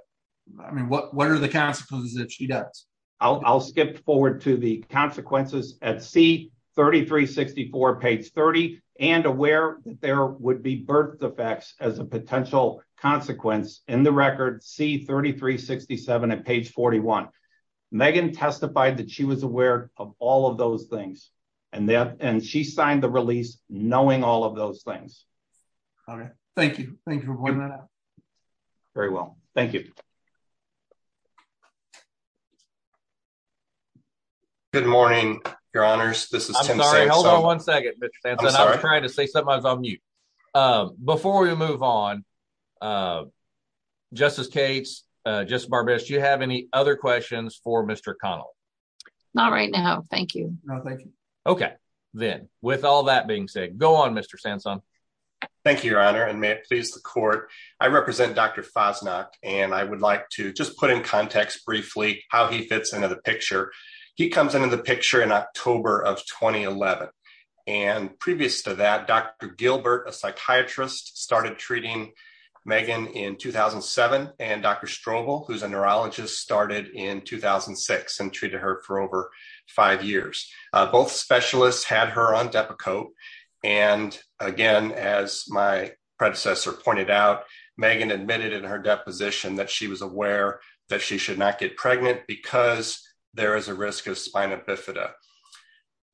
I mean, what are the consequences that she does? I'll skip forward to the consequences at C-3364 page 30 and aware that there would be birth defects as a potential consequence in the record C-3367 at page 41. Megan testified that she was aware of all of those things and she signed the release knowing all of those things. All right. Thank you. Thank you for pointing that out. Very well. Thank you. Good morning, your honors. This is Tim Sampson. I'm sorry. Hold on one second, Mr. Sampson. I'm sorry. I was trying to say something. I was on mute. Before we move on, Justice Cates, Justice Barbette, do you have any other questions for Mr. Connell? Not right now. Thank you. No, thank you. Okay. Then with all that being said, go on, Mr. Sampson. Thank you, your honor. And may it please the court. I represent Dr. Fasnacht and I would like to just put in context briefly how he fits into the picture. He comes into the picture in October of 2011. And previous to that, Dr. Gilbert, a psychiatrist, started treating Megan in 2007. And Dr. Strobel, who's a neurologist, started in 2006 and treated her for over five years. Both specialists had her on Depakote. And again, as my predecessor pointed out, Megan admitted in her deposition that she was aware that she should not get pregnant because there is a risk of spina bifida.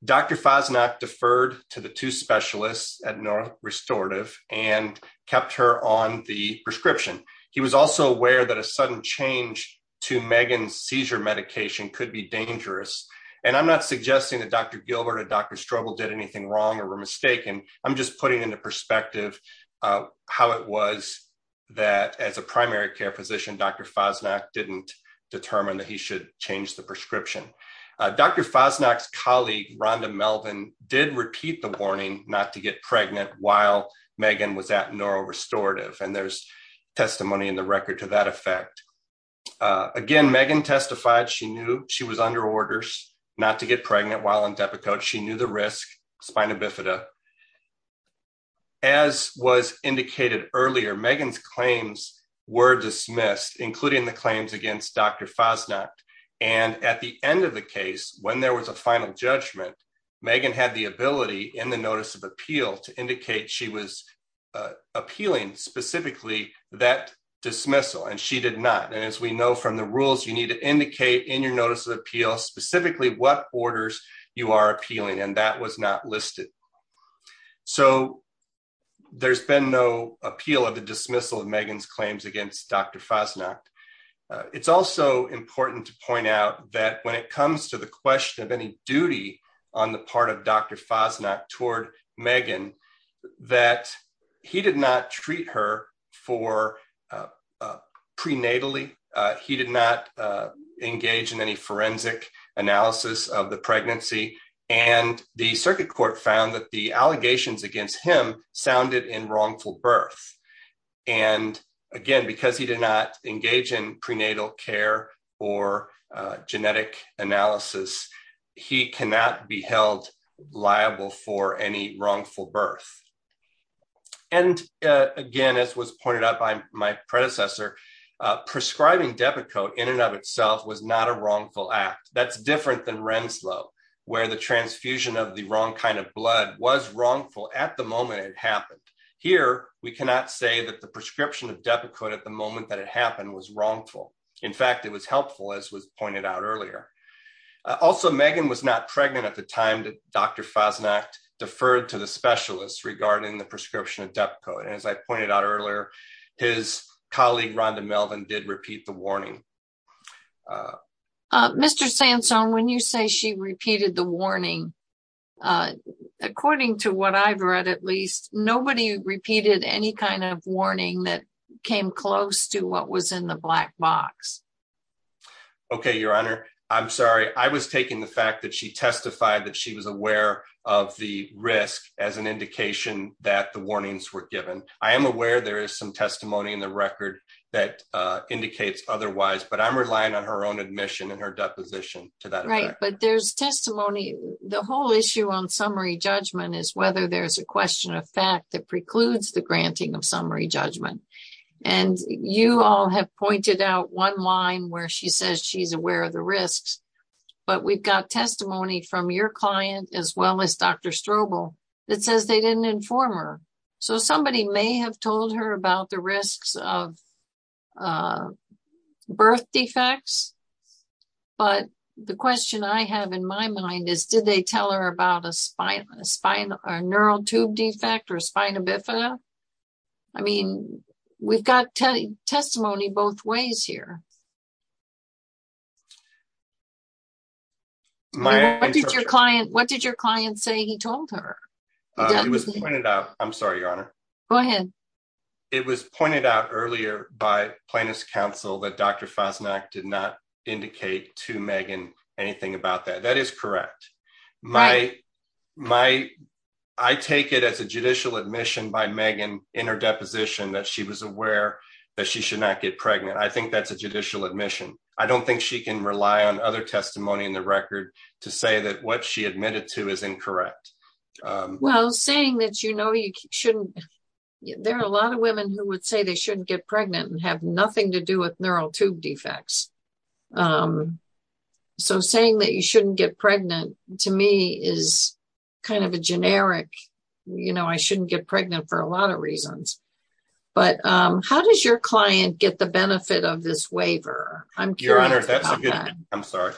Dr. Fasnacht deferred to the two specialists at North Restorative and kept her on the prescription. He was also aware that a sudden change to Megan's seizure medication could be dangerous. And I'm not suggesting that Dr. Gilbert and Dr. Strobel did anything wrong or were mistaken. I'm just putting into perspective how it was that as a primary care physician, Dr. Fasnacht didn't determine that he should change the prescription. Dr. Fasnacht's colleague, Rhonda Melvin, did repeat the warning not to get pregnant while Megan was at North Restorative. And there's testimony in the record to that effect. Again, Megan testified she knew she was under orders not to get pregnant while on Depakote. She knew the risk spina bifida. As was indicated earlier, Megan's claims were dismissed, including the claims against Dr. Fasnacht. And at the end of the case, when there was a final judgment, Megan had the ability in the notice of appeal to indicate she was appealing specifically that dismissal. And she did not. And as we know from the rules, you need to indicate in your notice of appeal, specifically what orders you are appealing. And that was not listed. So there's been no appeal of the dismissal of Megan's claims against Dr. Fasnacht. It's also important to point out that when it comes to the question of any duty on the part of Dr. Fasnacht toward Megan, that he did not treat her for prenatally. He did not engage in any forensic analysis of the pregnancy. And the circuit court found that the allegations against him sounded in wrongful birth. And again, because he did not engage in prenatal care or genetic analysis, he cannot be held liable for any wrongful birth. And again, as was pointed out by my predecessor, prescribing Depakote in and of itself was not a wrongful act. That's different than Renslow, where the transfusion of the wrong kind of blood was wrongful at the moment it happened. Here, we cannot say that the prescription of Depakote at the moment that it happened was wrongful. In fact, it was helpful as was pointed out earlier. Also, Megan was not pregnant at the time that Dr. Fasnacht deferred to the specialists regarding the prescription of Depakote. And as I pointed out earlier, his colleague Rhonda Melvin did repeat the warning. Mr. Sansone, when you say she repeated the warning, according to what I've read at least, nobody repeated any kind of warning that came close to what was in the black box. Okay, Your Honor, I'm sorry. I was taking the fact that she testified that she was aware of the risk as an indication that the warnings were given. I am aware there is some testimony in the record that indicates otherwise, but I'm relying on her own admission and her deposition to that. Right, but there's testimony. The whole issue on summary judgment is whether there's a question of fact that precludes the granting of summary judgment. And you all have pointed out one line where she says she's aware of the risks, but we've got testimony from your client as well as Dr. Strobel that says they didn't inform her. So somebody may have told her about the risks of birth defects, but the question I have in my mind is did they tell her about a neural tube defect or a spina bifida? I mean, we've got testimony both ways here. What did your client say he told her? It was pointed out. I'm sorry, Your Honor. Go ahead. It was pointed out earlier by plaintiff's counsel that Dr. Fasnacht did not indicate to Megan anything about that. That is correct. I take it as a judicial admission by Megan in her deposition that she was aware that she should not get pregnant. I think that's a judicial admission. I don't think she can rely on other testimony in the record to say that what she admitted to is incorrect. Well, saying that there are a lot of women who would say they shouldn't get pregnant and have nothing to do with neural tube defects. So saying that you shouldn't get pregnant to me is kind of a generic, I shouldn't get pregnant for a lot of reasons. But how does your client get the benefit of this waiver? I'm curious about that. I'm sorry.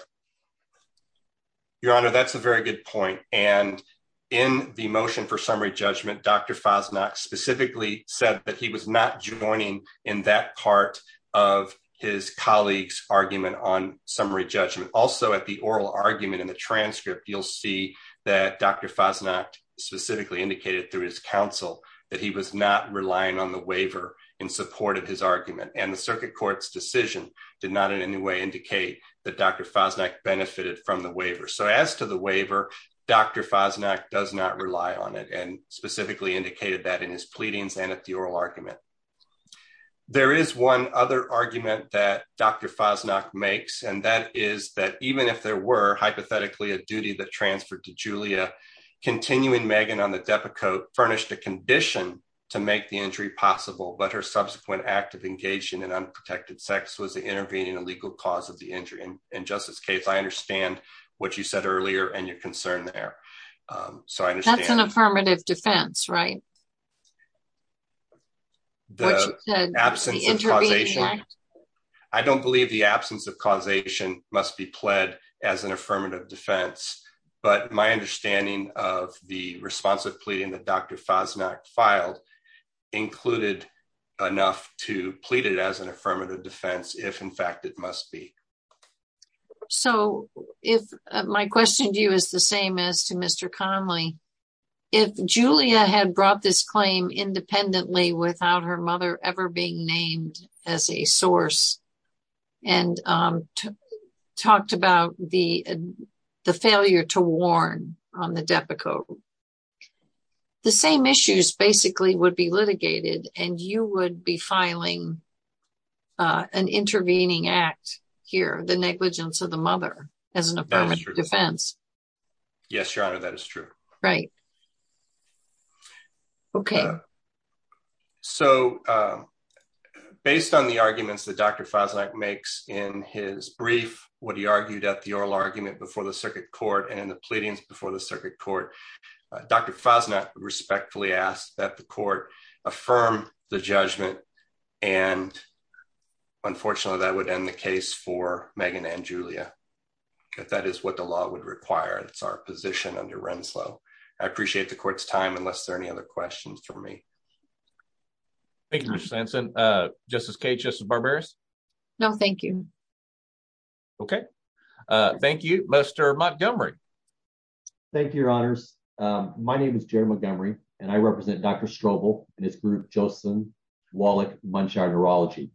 Your Honor, that's a very good point. And in the motion for summary judgment, Dr. Fasnacht specifically said that he was not joining in that part of his colleague's argument on summary judgment. Also at the oral argument in the transcript, you'll see that Dr. Fasnacht specifically indicated through his counsel that he was not relying on the waiver and supported his argument. And the circuit court's decision did not in any way indicate that Dr. Fasnacht benefited from the waiver. So as to the waiver, Dr. Fasnacht does not rely on it and specifically indicated that in his pleadings and at the oral argument. There is one other argument that Dr. Fasnacht makes and that is that even if there were hypothetically a duty that transferred to Julia, continuing Megan on the Depakote furnished a condition to make the injury possible but her subsequent active engagement in unprotected sex was the intervening illegal cause of the injury. And in Justice's case, I understand what you said earlier and your concern there. So I understand. That's an affirmative defense, right? The absence of causation. I don't believe the absence of causation must be pled as an affirmative defense, but my understanding of the responsive pleading that Dr. Fasnacht filed included enough to plead it as an affirmative defense if in fact it must be. So if my question to you is the same as to Mr. Conley, if Julia had brought this claim independently without her mother ever being named as a source and talked about the failure to warn on the Depakote, the same issues basically would be litigated and you would be filing an intervening act the negligence of the mother as an affirmative defense. Yes, Your Honor, that is true. Right. Okay. So based on the arguments that Dr. Fasnacht makes in his brief, what he argued at the oral argument before the circuit court and in the pleadings before the circuit court, Dr. Fasnacht respectfully asked that the court affirm the judgment and unfortunately that would end the case for Megan and Julia if that is what the law would require. That's our position under Renslow. I appreciate the court's time unless there are any other questions for me. Thank you, Mr. Hanson. Justice Cage, Justice Barberis? No, thank you. Okay. Thank you, Mr. Montgomery. Thank you, Your Honors. My name is Jerry Montgomery and I represent Dr. Strobel and his group, Josephson, Wallach, Munshire Urology.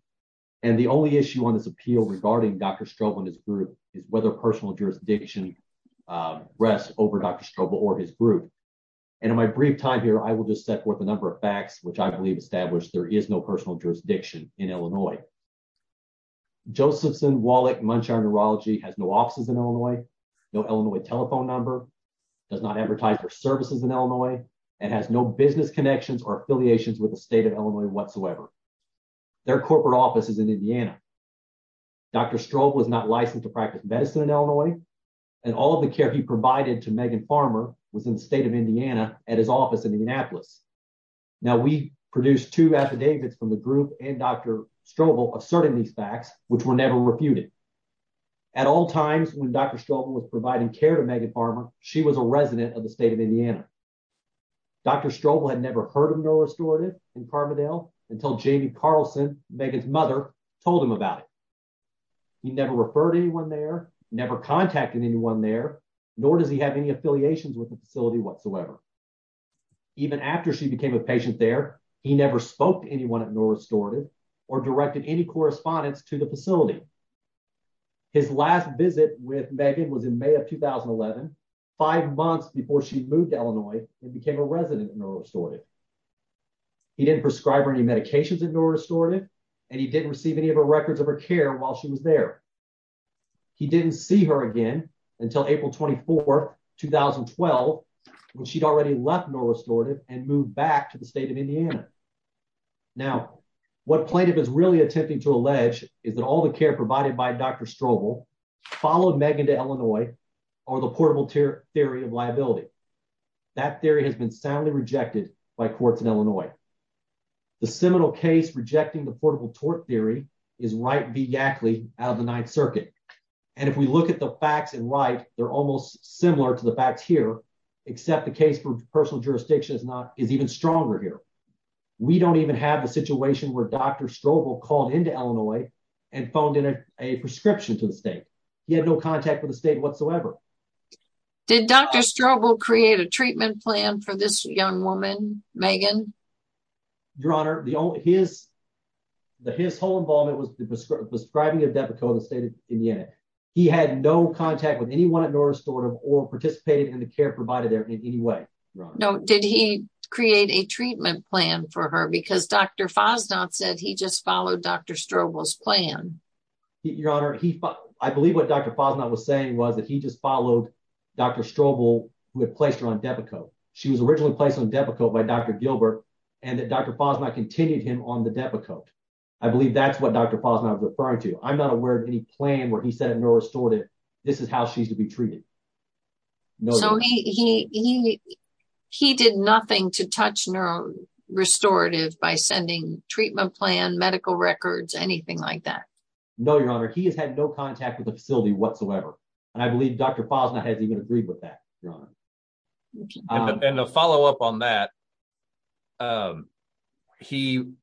And the only issue on this appeal regarding Dr. Strobel and his group is whether personal jurisdiction rests over Dr. Strobel or his group. And in my brief time here, I will just set forth a number of facts, which I believe established there is no personal jurisdiction in Illinois. Josephson, Wallach, Munshire Urology has no offices in Illinois, no Illinois telephone number, does not advertise their services in Illinois and has no business connections or affiliations with the state of Illinois whatsoever. Their corporate office is in Indiana. Dr. Strobel was not licensed to practice medicine in Illinois and all of the care he provided to Megan Farmer was in the state of Indiana at his office in Indianapolis. Now, we produced two affidavits from the group and Dr. Strobel asserting these facts, which were never refuted. At all times, when Dr. Strobel was providing care to Megan Farmer, she was a resident of the state of Indiana. Dr. Strobel had never heard of no restorative in Carbondale until Jamie Carlson, Megan's mother, told him about it. He never referred anyone there, never contacted anyone there, nor does he have any affiliations with the facility whatsoever. Even after she became a patient there, he never spoke to anyone at no restorative or directed any correspondence to the facility. His last visit with Megan was in May of 2011, five months before she moved to Illinois and became a resident of no restorative. He didn't prescribe her any medications at no restorative and he didn't receive any of her records of her care while she was there. He didn't see her again until April 24, 2012, when she'd already left no restorative and moved back to the state of Indiana. Now, what plaintiff is really attempting to allege is that all the care provided by Dr. Strobel followed Megan to Illinois or the portable theory of liability. That theory has been soundly rejected by courts in Illinois. The seminal case rejecting the portable tort theory is Wright v. Yackley out of the Ninth Circuit. And if we look at the facts in Wright, they're almost similar to the facts here, except the case for personal jurisdiction is even stronger here. We don't even have a situation where Dr. Strobel called into Illinois and phoned in a prescription to the state. He had no contact with the state whatsoever. Did Dr. Strobel create a treatment plan for this young woman, Megan? Your Honor, his whole involvement was the prescribing of Depakote in the state of Indiana. He had no contact with anyone at no restorative or participated in the care provided there in any way. No, did he create a treatment plan for her because Dr. Fosnot said he just followed Dr. Strobel's plan? Your Honor, I believe what Dr. Fosnot was saying was that he just followed Dr. Strobel who had placed her on Depakote. She was originally placed on Depakote by Dr. Gilbert and that Dr. Fosnot continued him on the Depakote. I believe that's what Dr. Fosnot was referring to. I'm not aware of any plan where he said at no restorative, this is how she's to be treated. So he did nothing to touch no restorative by sending treatment plan, medical records, anything like that? No, Your Honor, he has had no contact with the facility whatsoever. And I believe Dr. Fosnot has even agreed with that. And to follow up on that, he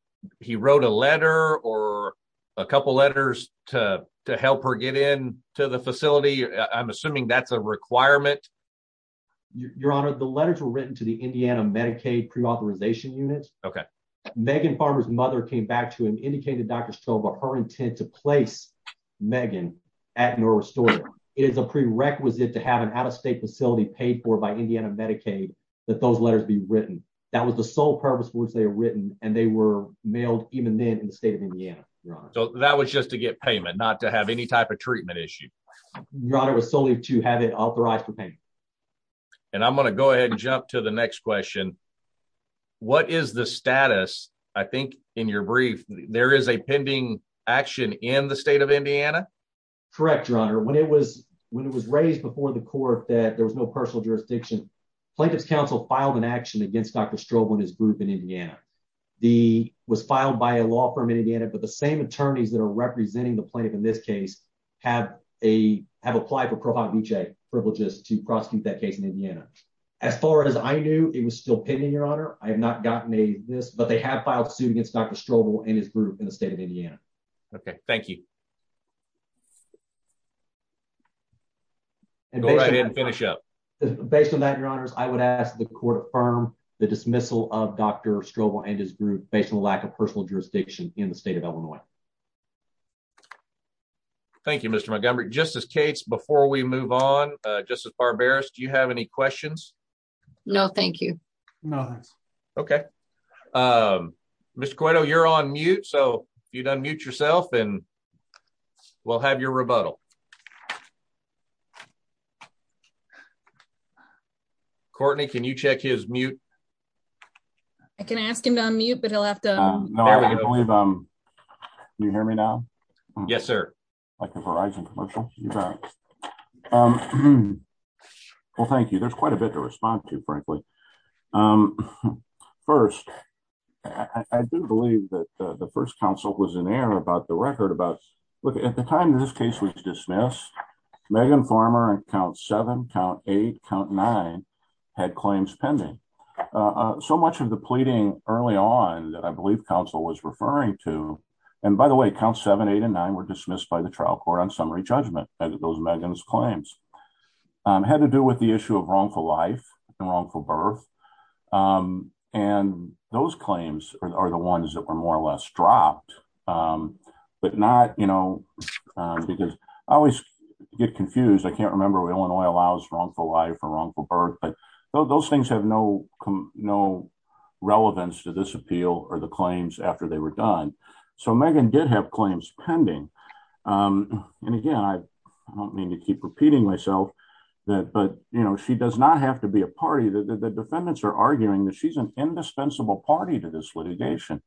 wrote a letter or a couple of letters to help her get in to the facility. I'm assuming that's a requirement. Your Honor, the letters were written to the Indiana Medicaid pre-authorization unit. Okay. Megan Farmer's mother came back to him indicating to Dr. Strobel her intent to place Megan at no restorative. It is a prerequisite to have an out-of-state facility paid for by Indiana Medicaid that those letters be written. That was the sole purpose for which they were written. And they were mailed even then in the state of Indiana, Your Honor. So that was just to get payment, not to have any type of treatment issue. Your Honor, it was solely to have it authorized for payment. And I'm going to go ahead and jump to the next question. What is the status, I think in your brief, there is a pending action in the state of Indiana? Correct, Your Honor. When it was raised before the court that there was no personal jurisdiction, Plaintiff's counsel filed an action against Dr. Strobel and his group in Indiana. He was filed by a law firm in Indiana, but the same attorneys that are representing the plaintiff in this case have applied for pro bono privileges to prosecute that case in Indiana. As far as I knew, it was still pending, Your Honor. I have not gotten any of this, but they have filed suit against Dr. Strobel and his group in the state of Indiana. Okay, thank you. Go right ahead and finish up. Based on that, Your Honors, I would ask the court affirm the dismissal of Dr. Strobel and his group based on the lack of personal jurisdiction in the state of Illinois. Thank you, Mr. Montgomery. Justice Cates, before we move on, Justice Barberis, do you have any questions? No, thank you. No, thanks. Okay. Mr. Coito, you're on mute, so you'd unmute yourself and we'll have your rebuttal. Courtney, can you check his mute? I can ask him to unmute, but he'll have to... No, I believe I'm... Can you hear me now? Yes, sir. Like a Verizon commercial? Well, thank you. There's quite a bit to respond to, frankly. First, I do believe that the first counsel was in error about the record about... Look, at the time this case was dismissed, Megan Farmer, on count seven, count eight, count nine, had claims pending. So much of the pleading early on that I believe counsel was referring to... And by the way, count seven, eight, and nine were dismissed by the trial court on summary judgment, those Megan's claims. Had to do with the issue of wrongful life and wrongful birth. And those claims are the ones that were more or less dropped, but not... Because I always get confused. I can't remember Illinois allows wrongful life or wrongful birth, but those things have no relevance to this appeal or the claims after they were done. So Megan did have claims pending. And again, I don't mean to keep repeating myself, but she does not have to be a party. The defendants are arguing that she's an indispensable party to this litigation.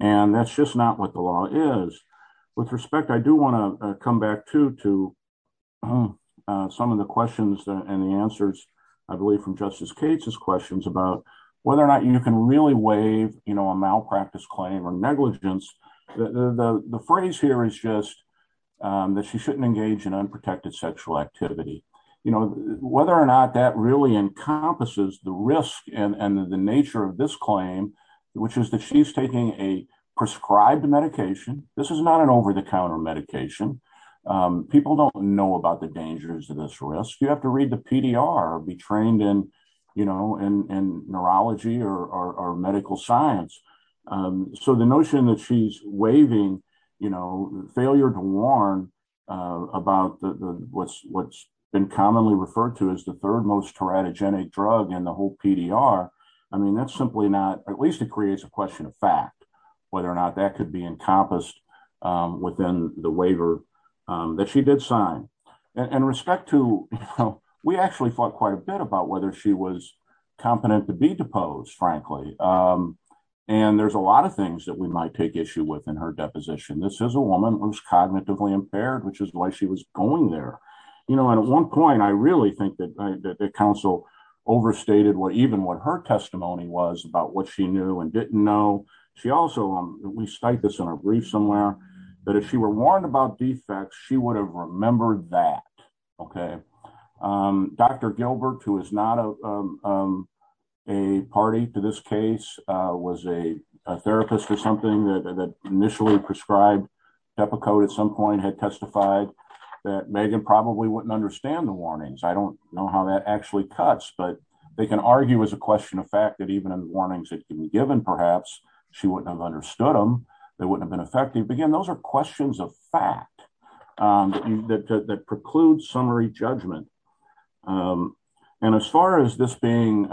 And that's just not what the law is. With respect, I do wanna come back too to some of the questions and the answers. I believe from Justice Cates' questions about whether or not you can really waive a malpractice claim or negligence. The phrase here is just that she shouldn't engage in unprotected sexual activity. Whether or not that really encompasses the risk and the nature of this claim, which is that she's taking a prescribed medication. This is not an over-the-counter medication. People don't know about the dangers of this risk. You have to read the PDR or be trained in neurology or medical science. So the notion that she's waiving the failure to warn about what's been commonly referred to as the third most teratogenic drug in the whole PDR. I mean, that's simply not, at least it creates a question of fact, whether or not that could be encompassed within the waiver that she did sign. In respect to, we actually thought quite a bit about whether she was competent to be deposed, frankly. And there's a lot of things that we might take issue with in her deposition. This is a woman who's cognitively impaired, which is why she was going there. At one point, I really think that the counsel overstated even what her testimony was about what she knew and didn't know. She also, we cite this in our brief somewhere, that if she were warned about defects, she would have remembered that, OK? Dr. Gilbert, who is not a party to this case, was a therapist or something that initially prescribed Tepico at some point had testified that Megan probably wouldn't understand the warnings. I don't know how that actually cuts, but they can argue as a question of fact that even in the warnings that can be given, perhaps she wouldn't have understood them. They wouldn't have been effective. Again, those are questions of fact. That precludes summary judgment. And as far as this being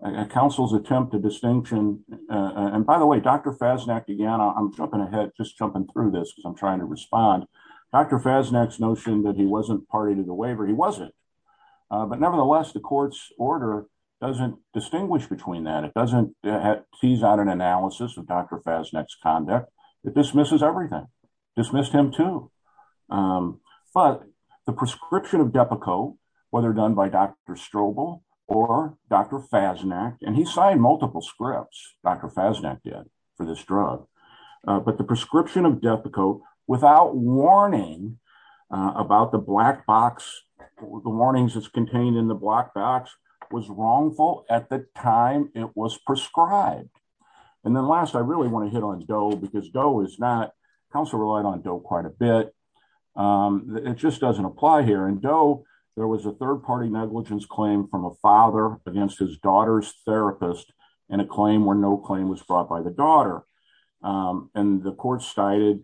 a counsel's attempt to distinction, and by the way, Dr. Fasnacht, again, I'm jumping ahead, just jumping through this because I'm trying to respond. Dr. Fasnacht's notion that he wasn't party to the waiver, he wasn't. But nevertheless, the court's order doesn't distinguish between that. It doesn't tease out an analysis of Dr. Fasnacht's conduct. It dismisses everything. Dismissed him too. But the prescription of Depakote, whether done by Dr. Strobel or Dr. Fasnacht, and he signed multiple scripts, Dr. Fasnacht did for this drug. But the prescription of Depakote without warning about the black box, the warnings that's contained in the black box was wrongful at the time it was prescribed. And then last, I really want to hit on Doe because Doe is not, counsel relied on Doe quite a bit. It just doesn't apply here. And Doe, there was a third-party negligence claim from a father against his daughter's therapist and a claim where no claim was brought by the daughter. And the court cited,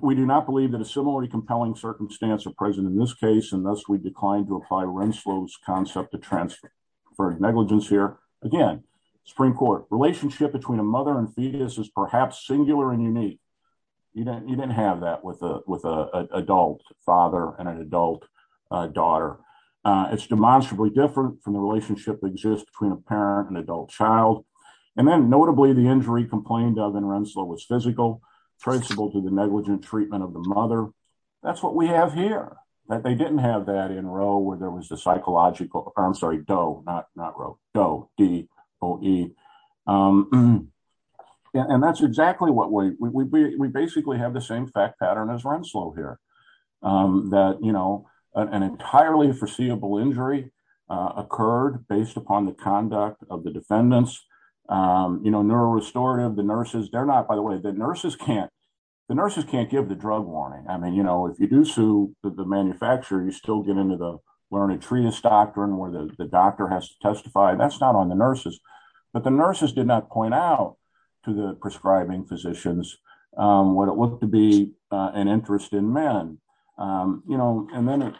we do not believe that a similarly compelling circumstance are present in this case and thus we declined to apply Renslow's concept of transfer for negligence here. Again, Supreme Court, relationship between a mother and fetus is perhaps singular and unique. You didn't have that with an adult father and an adult daughter. It's demonstrably different from the relationship that exists between a parent and adult child. And then notably the injury complained of in Renslow was physical, traceable to the negligent treatment of the mother. That's what we have here, that they didn't have that in Roe where there was a psychological, or I'm sorry, Doe, not Roe, Doe, D-O-E. And that's exactly what we, we basically have the same fact pattern as Renslow here. That an entirely foreseeable injury occurred based upon the conduct of the defendants. Neuro restorative, the nurses, they're not, by the way, the nurses can't, the nurses can't give the drug warning. I mean, if you do sue the manufacturer, you still get into the learned treatise doctrine where the doctor has to testify. That's not on the nurses, but the nurses did not point out to the prescribing physicians what it looked to be an interest in men. You know, and then,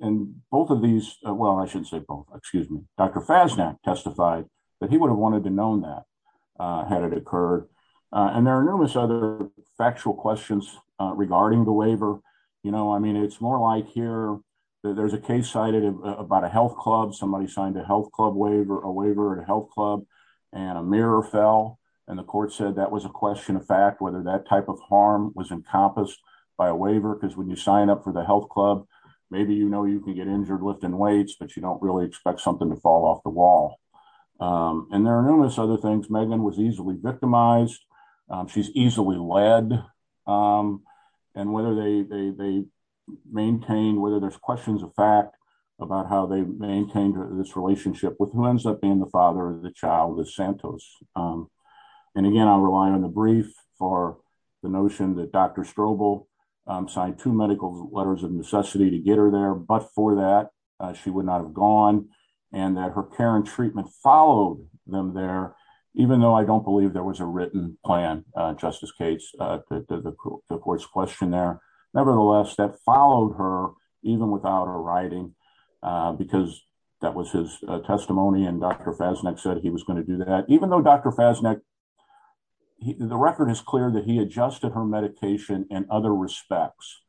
and both of these, well, I shouldn't say both, excuse me. Dr. Fasnacht testified that he would have wanted to known that had it occurred. And there are numerous other factual questions regarding the waiver. You know, I mean, it's more like here, there's a case cited about a health club. Somebody signed a health club waiver, a waiver at a health club and a mirror fell. And the court said that was a question of fact, whether that type of harm was encompassed by a waiver. Because when you sign up for the health club, maybe, you know, you can get injured lifting weights, but you don't really expect something to fall off the wall. And there are numerous other things. Megan was easily victimized. She's easily led. And whether they maintain, whether there's questions of fact about how they maintained this relationship with who ends up being the father of the child, the Santos. And again, I'm relying on the brief for the notion that Dr. Strobel signed two medical letters of necessity to get her there. But for that, she would not have gone. And that her care and treatment followed them there. Even though I don't believe there was a written plan, Justice Cates, the court's question there. Nevertheless, that followed her even without a writing because that was his testimony. And Dr. Fasnacht said he was going to do that. Even though Dr. Fasnacht, the record is clear that he adjusted her medication in other respects.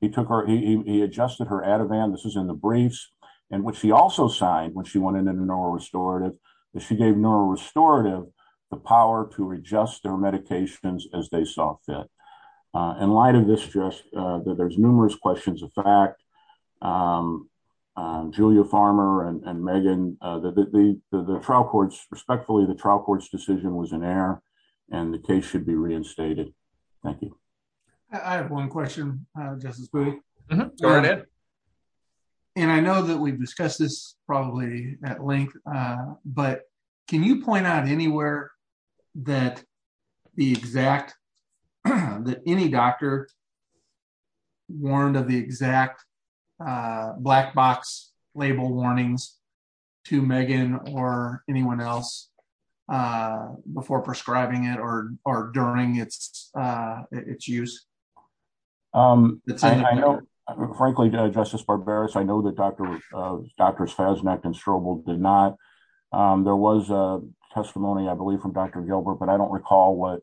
He took her, he adjusted her Ativan. This is in the briefs. And what she also signed when she went into neurorestorative that she gave neurorestorative the power to adjust their medications as they saw fit. In light of this, just that there's numerous questions of fact, Julia Farmer and Megan, the trial courts, respectfully, the trial court's decision was in error and the case should be reinstated. Thank you. I have one question, Justice Booth. Go ahead. And I know that we've discussed this probably at length, but can you point out anywhere that the exact, that any doctor warned of the exact black box label warnings to Megan or anyone else before prescribing it or during its use? Frankly, Justice Barbaros, I know that Dr. Fasnacht and Strobel did not. There was a testimony, I believe from Dr. Gilbert, but I don't recall what,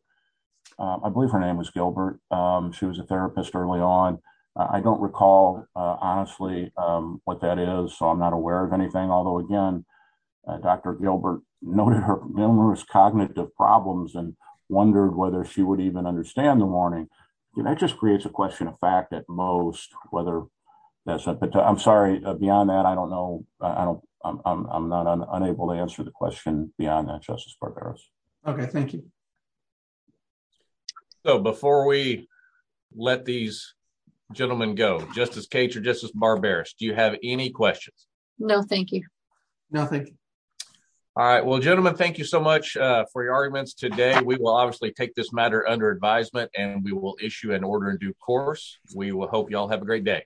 I believe her name was Gilbert. She was a therapist early on. I don't recall, honestly, what that is. So I'm not aware of anything. Although again, Dr. Gilbert noted her numerous cognitive problems and wondered whether she would even understand the warning. That just creates a question of fact at most, whether that's, I'm sorry, beyond that, I don't know, I'm not unable to answer the question beyond that, Justice Barbaros. Okay, thank you. So before we let these gentlemen go, Justice Cage or Justice Barbaros, do you have any questions? No, thank you. No, thank you. All right, well, gentlemen, thank you so much for your arguments today. We will obviously take this matter under advisement and we will issue an order in due course. We will hope you all have a great day.